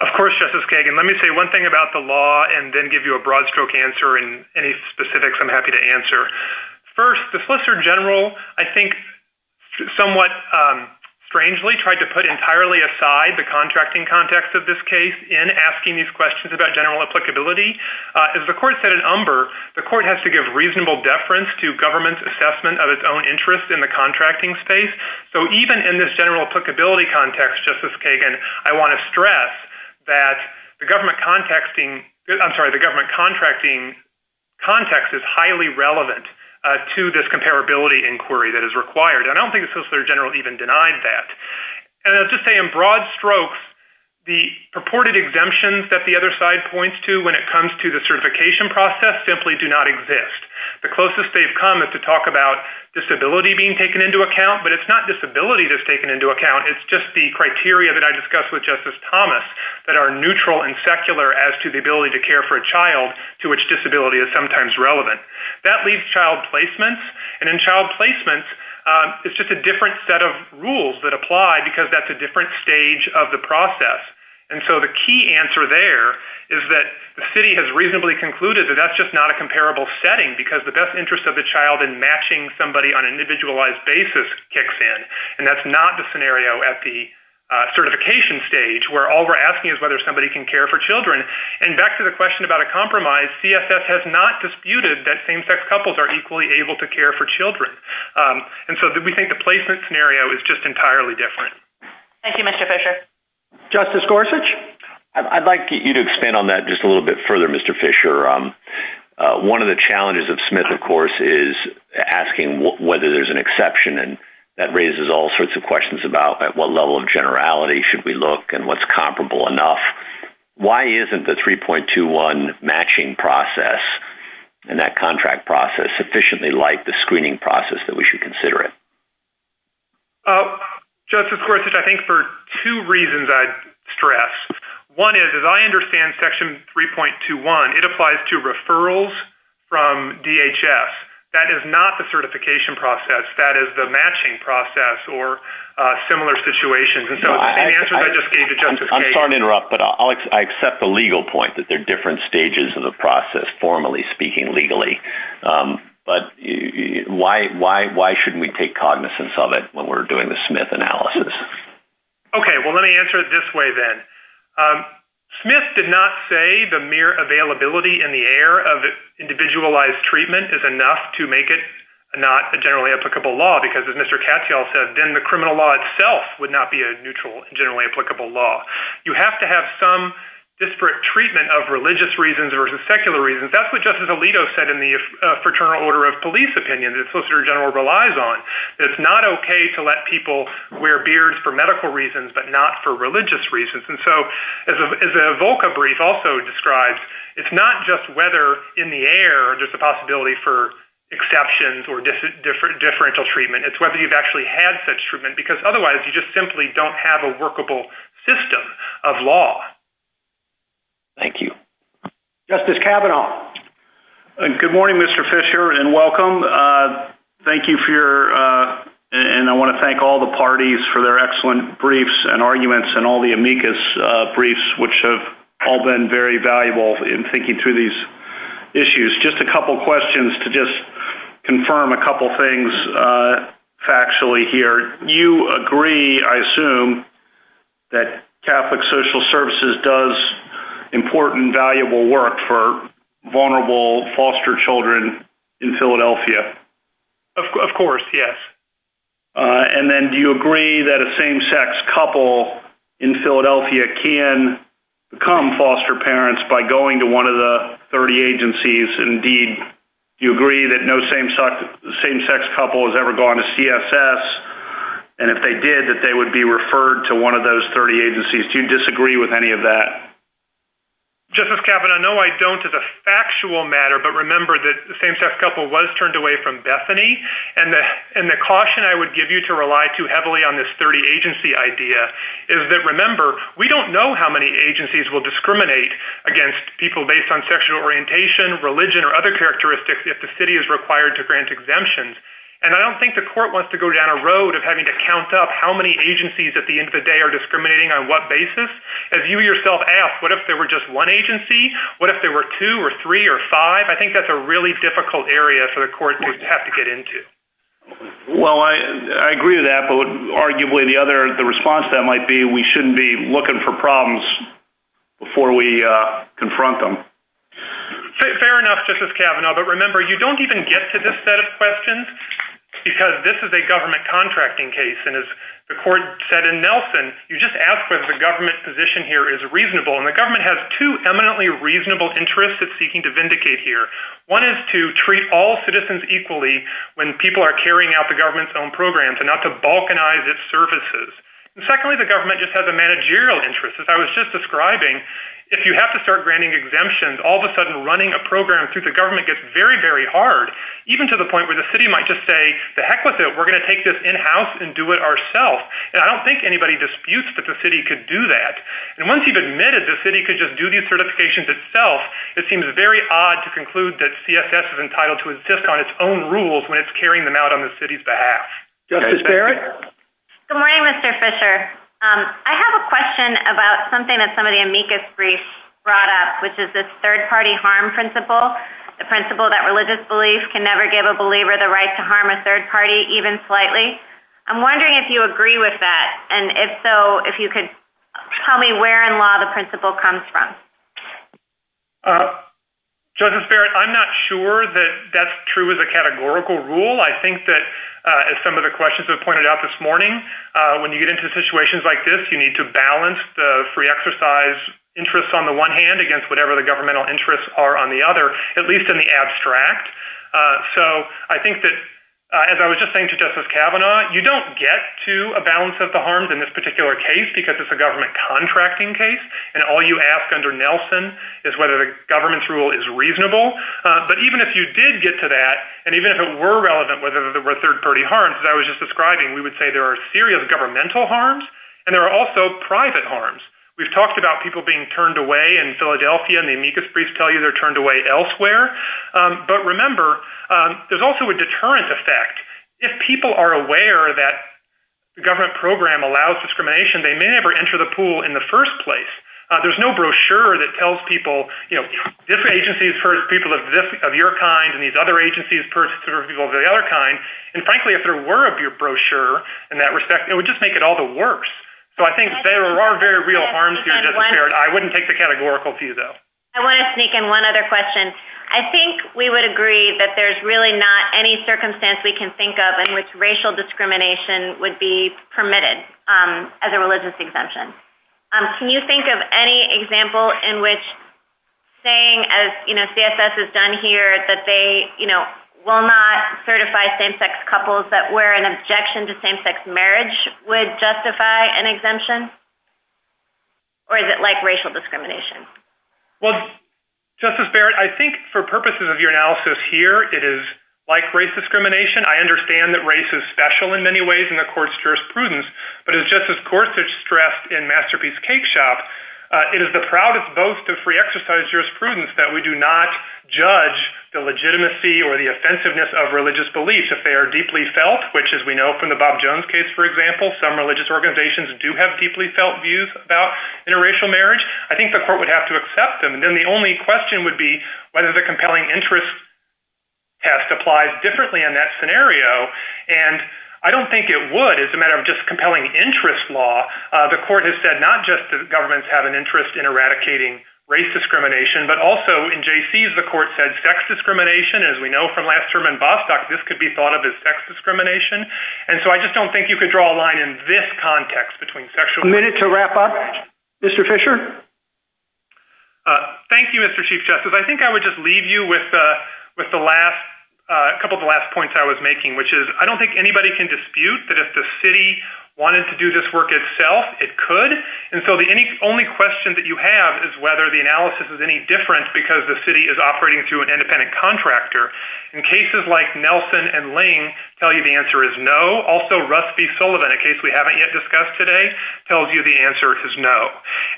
Of course, Justice Kagan. Let me say one thing about the law and then give you a broad stroke answer and any specifics I'm happy to answer. First, the Solicitor General, I think, somewhat strangely tried to put entirely aside the contracting context of this case in asking these questions about general applicability. As the court said in Umber, the court has to give reasonable deference to government's assessment of its own interest in the contracting space. So even in this general applicability context, Justice Kagan, I want to stress that the government contacting—I'm sorry, the government contracting context is highly relevant to this comparability inquiry that is required. And I don't think the Solicitor General even denied that. And I'll just say in broad strokes, the purported exemptions that the other side points to when it comes to the certification process simply do not exist. The closest they've come is to talk about disability being taken into account. But it's not disability that's taken into account. It's just the criteria that I discussed with Justice Thomas that are neutral and secular as to the ability to care for a child to which disability is sometimes relevant. That leaves child placements. And in child placements, it's just a different set of rules that apply because that's a different stage of the process. And so the key answer there is that the city has reasonably concluded that that's just not a comparable setting because the best interest of the child in matching somebody on an individualized basis kicks in. And that's not the scenario at the certification stage where all we're asking is whether somebody can care for children. And back to the question about a compromise, CSS has not disputed that same-sex couples are equally able to care for children. And so we think the placement scenario is just entirely different. Thank you, Mr. Fisher. Justice Gorsuch? I'd like you to expand on that just a little bit further, Mr. Fisher. One of the challenges of Smith, of course, is asking whether there's an exception. And that raises all sorts of questions about at what level of generality should we look and what's comparable enough. Why isn't the 3.21 matching process and that contract process sufficiently like the screening process that we should consider it? Justice Gorsuch, I think for two reasons I'd stress. One is, as I understand Section 3.21, it applies to referrals from DHS. That is not the certification process. That is the matching process or similar situations. And so the answers I just gave to Justice Gage— I'm sorry to interrupt, but I accept the legal point that there are different stages of the process, formally speaking, legally. But why shouldn't we take cognizance of it when we're doing the Smith analysis? Okay, well, let me answer it this way then. Smith did not say the mere availability in the air of individualized treatment is enough to make it not a generally applicable law, because as Mr. Katyal said, then the criminal law itself would not be a neutral, generally applicable law. You have to have some disparate treatment of religious reasons versus secular reasons. That's what Justice Alito said in the Fraternal Order of Police opinion that the Solicitor General relies on. It's not okay to let people wear beards for medical reasons but not for religious reasons. And so, as a Volca brief also describes, it's not just whether in the air there's a possibility for exceptions or differential treatment. It's whether you've actually had such treatment, because otherwise you just simply don't have a workable system of law. Thank you. Justice Kavanaugh. Good morning, Mr. Fisher, and welcome. Thank you for your—and I want to thank all the parties for their excellent briefs and the amicus briefs, which have all been very valuable in thinking through these issues. Just a couple questions to just confirm a couple things factually here. You agree, I assume, that Catholic Social Services does important, valuable work for vulnerable foster children in Philadelphia? Of course, yes. And then, do you agree that a same-sex couple in Philadelphia can become foster parents by going to one of the 30 agencies? Indeed, do you agree that no same-sex couple has ever gone to CSS, and if they did, that they would be referred to one of those 30 agencies? Do you disagree with any of that? Justice Kavanaugh, no, I don't as a factual matter, but remember that the same-sex couple was turned away from Bethany, and the caution I would give you to rely too heavily on this 30-agency idea is that, remember, we don't know how many agencies will discriminate against people based on sexual orientation, religion, or other characteristics if the city is required to grant exemptions. And I don't think the court wants to go down a road of having to count up how many agencies at the end of the day are discriminating on what basis. As you yourself asked, what if there were just one agency? What if there were two or three or five? I think that's a really difficult area for the court to have to get into. Well, I agree with that, but arguably the response to that might be we shouldn't be looking for problems before we confront them. Fair enough, Justice Kavanaugh, but remember, you don't even get to this set of questions because this is a government contracting case. And as the court said in Nelson, you just ask whether the government's position here is reasonable, and the government has two eminently reasonable interests it's seeking to vindicate here. One is to treat all citizens equally when people are carrying out the government's own programs and not to balkanize its services. And secondly, the government just has a managerial interest. As I was just describing, if you have to start granting exemptions, all of a sudden running a program through the government gets very, very hard, even to the point where the city might just say, the heck with it, we're going to take this in-house and do it ourselves. And I don't think anybody disputes that the city could do that. And once you've admitted the city could just do these certifications itself, it seems very odd to conclude that CFS is entitled to exist on its own rules when it's carrying them out on the city's behalf. Justice Barrett? Good morning, Mr. Fisher. I have a question about something that some of the amicus briefs brought up, which is the third-party harm principle, the principle that religious beliefs can never give a believer the right to harm a third party, even slightly. I'm wondering if you agree with that. And if so, if you could tell me where in law the principle comes from. Justice Barrett, I'm not sure that that's true as a categorical rule. I think that, as some of the questions have pointed out this morning, when you get into situations like this, you need to balance the free exercise interests on the one hand against whatever the governmental interests are on the other, at least in the abstract. So I think that, as I was just saying to Justice Kavanaugh, you don't get to a balance of the harms in this particular case, because it's a government contracting case. And all you ask under Nelson is whether the government's rule is reasonable. But even if you did get to that, and even if it were relevant, whether there were third-party harms, as I was just describing, we would say there are serious governmental harms, and there are also private harms. We've talked about people being turned away in Philadelphia, and the amicus briefs tell you they're turned away elsewhere. But remember, there's also a deterrent effect. If people are aware that the government program allows discrimination, they may never enter the pool in the first place. There's no brochure that tells people, you know, this agency is for people of your kind, and these other agencies are for people of the other kind. And frankly, if there were a brochure in that respect, it would just make it all the worse. So I think there are very real harms here, Justice Garrett. I wouldn't take the categorical view, though. I want to sneak in one other question. I think we would agree that there's really not any circumstance we can think of in which Can you think of any example in which saying, as, you know, CFS has done here, that they, you know, will not certify same-sex couples that were in objection to same-sex marriage would justify an exemption? Or is it like racial discrimination? Well, Justice Barrett, I think for purposes of your analysis here, it is like race discrimination. I understand that race is special in many ways, and the Court's jurisprudence. But as Justice Gorsuch stressed in Masterpiece Cake Shop, it is the proudest boast of free exercise jurisprudence that we do not judge the legitimacy or the offensiveness of religious beliefs if they are deeply felt, which, as we know from the Bob Jones case, for example, some religious organizations do have deeply felt views about interracial marriage. I think the Court would have to accept them. And then the only question would be whether the compelling interest test applies differently in that scenario. And I don't think it would. It's a matter of just compelling interest law. The Court has said not just that governments have an interest in eradicating race discrimination, but also in Jaycees, the Court said sex discrimination. As we know from last term in Bostock, this could be thought of as sex discrimination. And so I just don't think you could draw a line in this context between sexual— A minute to wrap up. Mr. Fisher? Thank you, Mr. Chief Justice. I think I would just leave you with the last—a couple of the last points I was making, I don't think anybody can dispute that if the city wanted to do this work itself, it could. And so the only question that you have is whether the analysis is any different because the city is operating through an independent contractor. In cases like Nelson and Ling tell you the answer is no. Also, Russ B. Sullivan, in case we haven't yet discussed today, tells you the answer is no.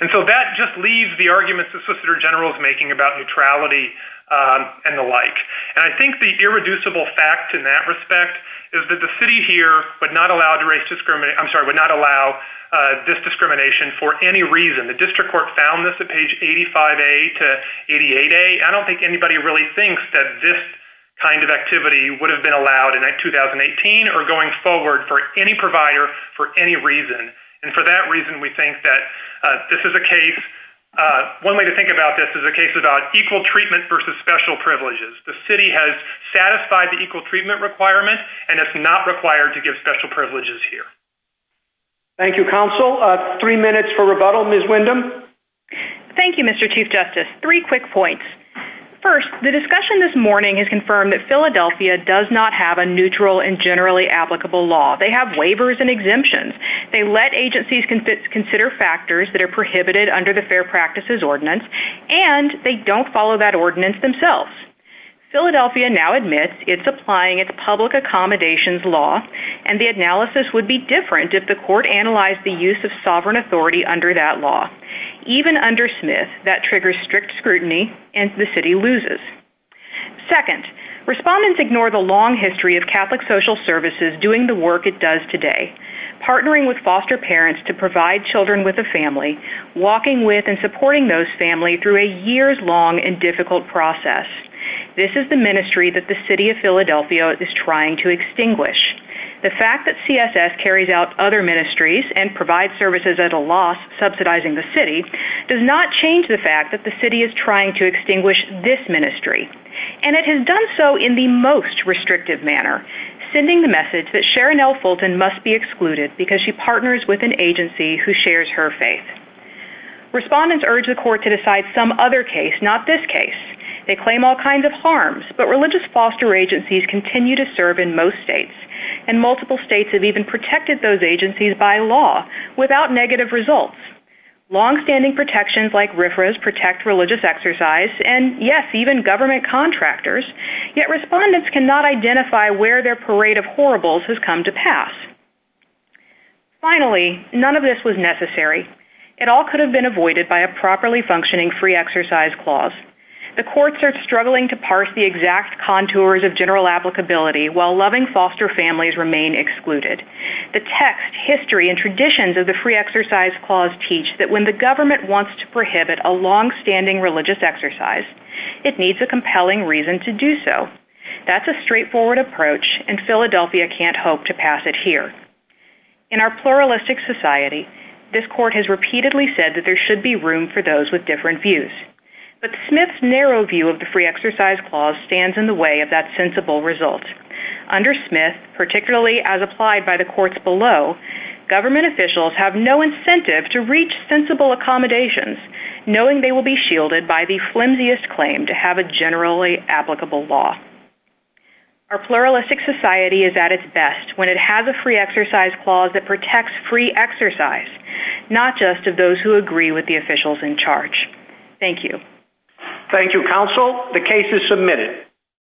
And so that just leaves the arguments the Solicitor General is making about neutrality and the like. And I think the irreducible fact in that respect is that the city here would not allow this discrimination for any reason. The District Court found this at page 85A to 88A. I don't think anybody really thinks that this kind of activity would have been allowed in 2018 or going forward for any provider for any reason. And for that reason, we think that this is a case—one way to think about this is a case about equal treatment versus special privileges. The city has satisfied the equal treatment requirement, and it's not required to give special privileges here. Thank you, Counsel. Three minutes for rebuttal. Ms. Windham? Thank you, Mr. Chief Justice. Three quick points. First, the discussion this morning has confirmed that Philadelphia does not have a neutral and generally applicable law. They have waivers and exemptions. They let agencies consider factors that are prohibited under the Fair Practices Ordinance, and they don't follow that ordinance themselves. Philadelphia now admits it's applying its public accommodations law, and the analysis would be different if the court analyzed the use of sovereign authority under that law. Even under Smith, that triggers strict scrutiny, and the city loses. Second, respondents ignore the long history of Catholic Social Services doing the work it does today—partnering with foster parents to provide children with a family, walking with and supporting those families through a years-long and difficult process. This is the ministry that the city of Philadelphia is trying to extinguish. The fact that CSS carries out other ministries and provides services at a loss, subsidizing the city, does not change the fact that the city is trying to extinguish this ministry. And it has done so in the most restrictive manner, sending the message that Sharon L. Fulton must be excluded because she partners with an agency who shares her faith. Respondents urge the court to decide some other case, not this case. They claim all kinds of harms, but religious foster agencies continue to serve in most states, and multiple states have even protected those agencies by law, without negative results. Longstanding protections like RFRAs protect religious exercise, and yes, even government contractors, yet respondents cannot identify where their parade of horribles has come to pass. Finally, none of this was necessary. It all could have been avoided by a properly functioning free exercise clause. The courts are struggling to parse the exact contours of general applicability, while loving foster families remain excluded. The text, history, and traditions of the free exercise clause teach that when the government wants to prohibit a longstanding religious exercise, it needs a compelling reason to do so. That's a straightforward approach, and Philadelphia can't hope to pass it here. In our pluralistic society, this court has repeatedly said that there should be room for those with different views, but Smith's narrow view of the free exercise clause stands in the way of that sensible result. Under Smith, particularly as applied by the courts below, government officials have no incentive to reach sensible accommodations, knowing they will be shielded by the flimsiest claim to have a generally applicable law. Our pluralistic society is at its best when it has a free exercise clause that protects free exercise, not just of those who agree with the officials in charge. Thank you. Thank you, counsel. The case is submitted.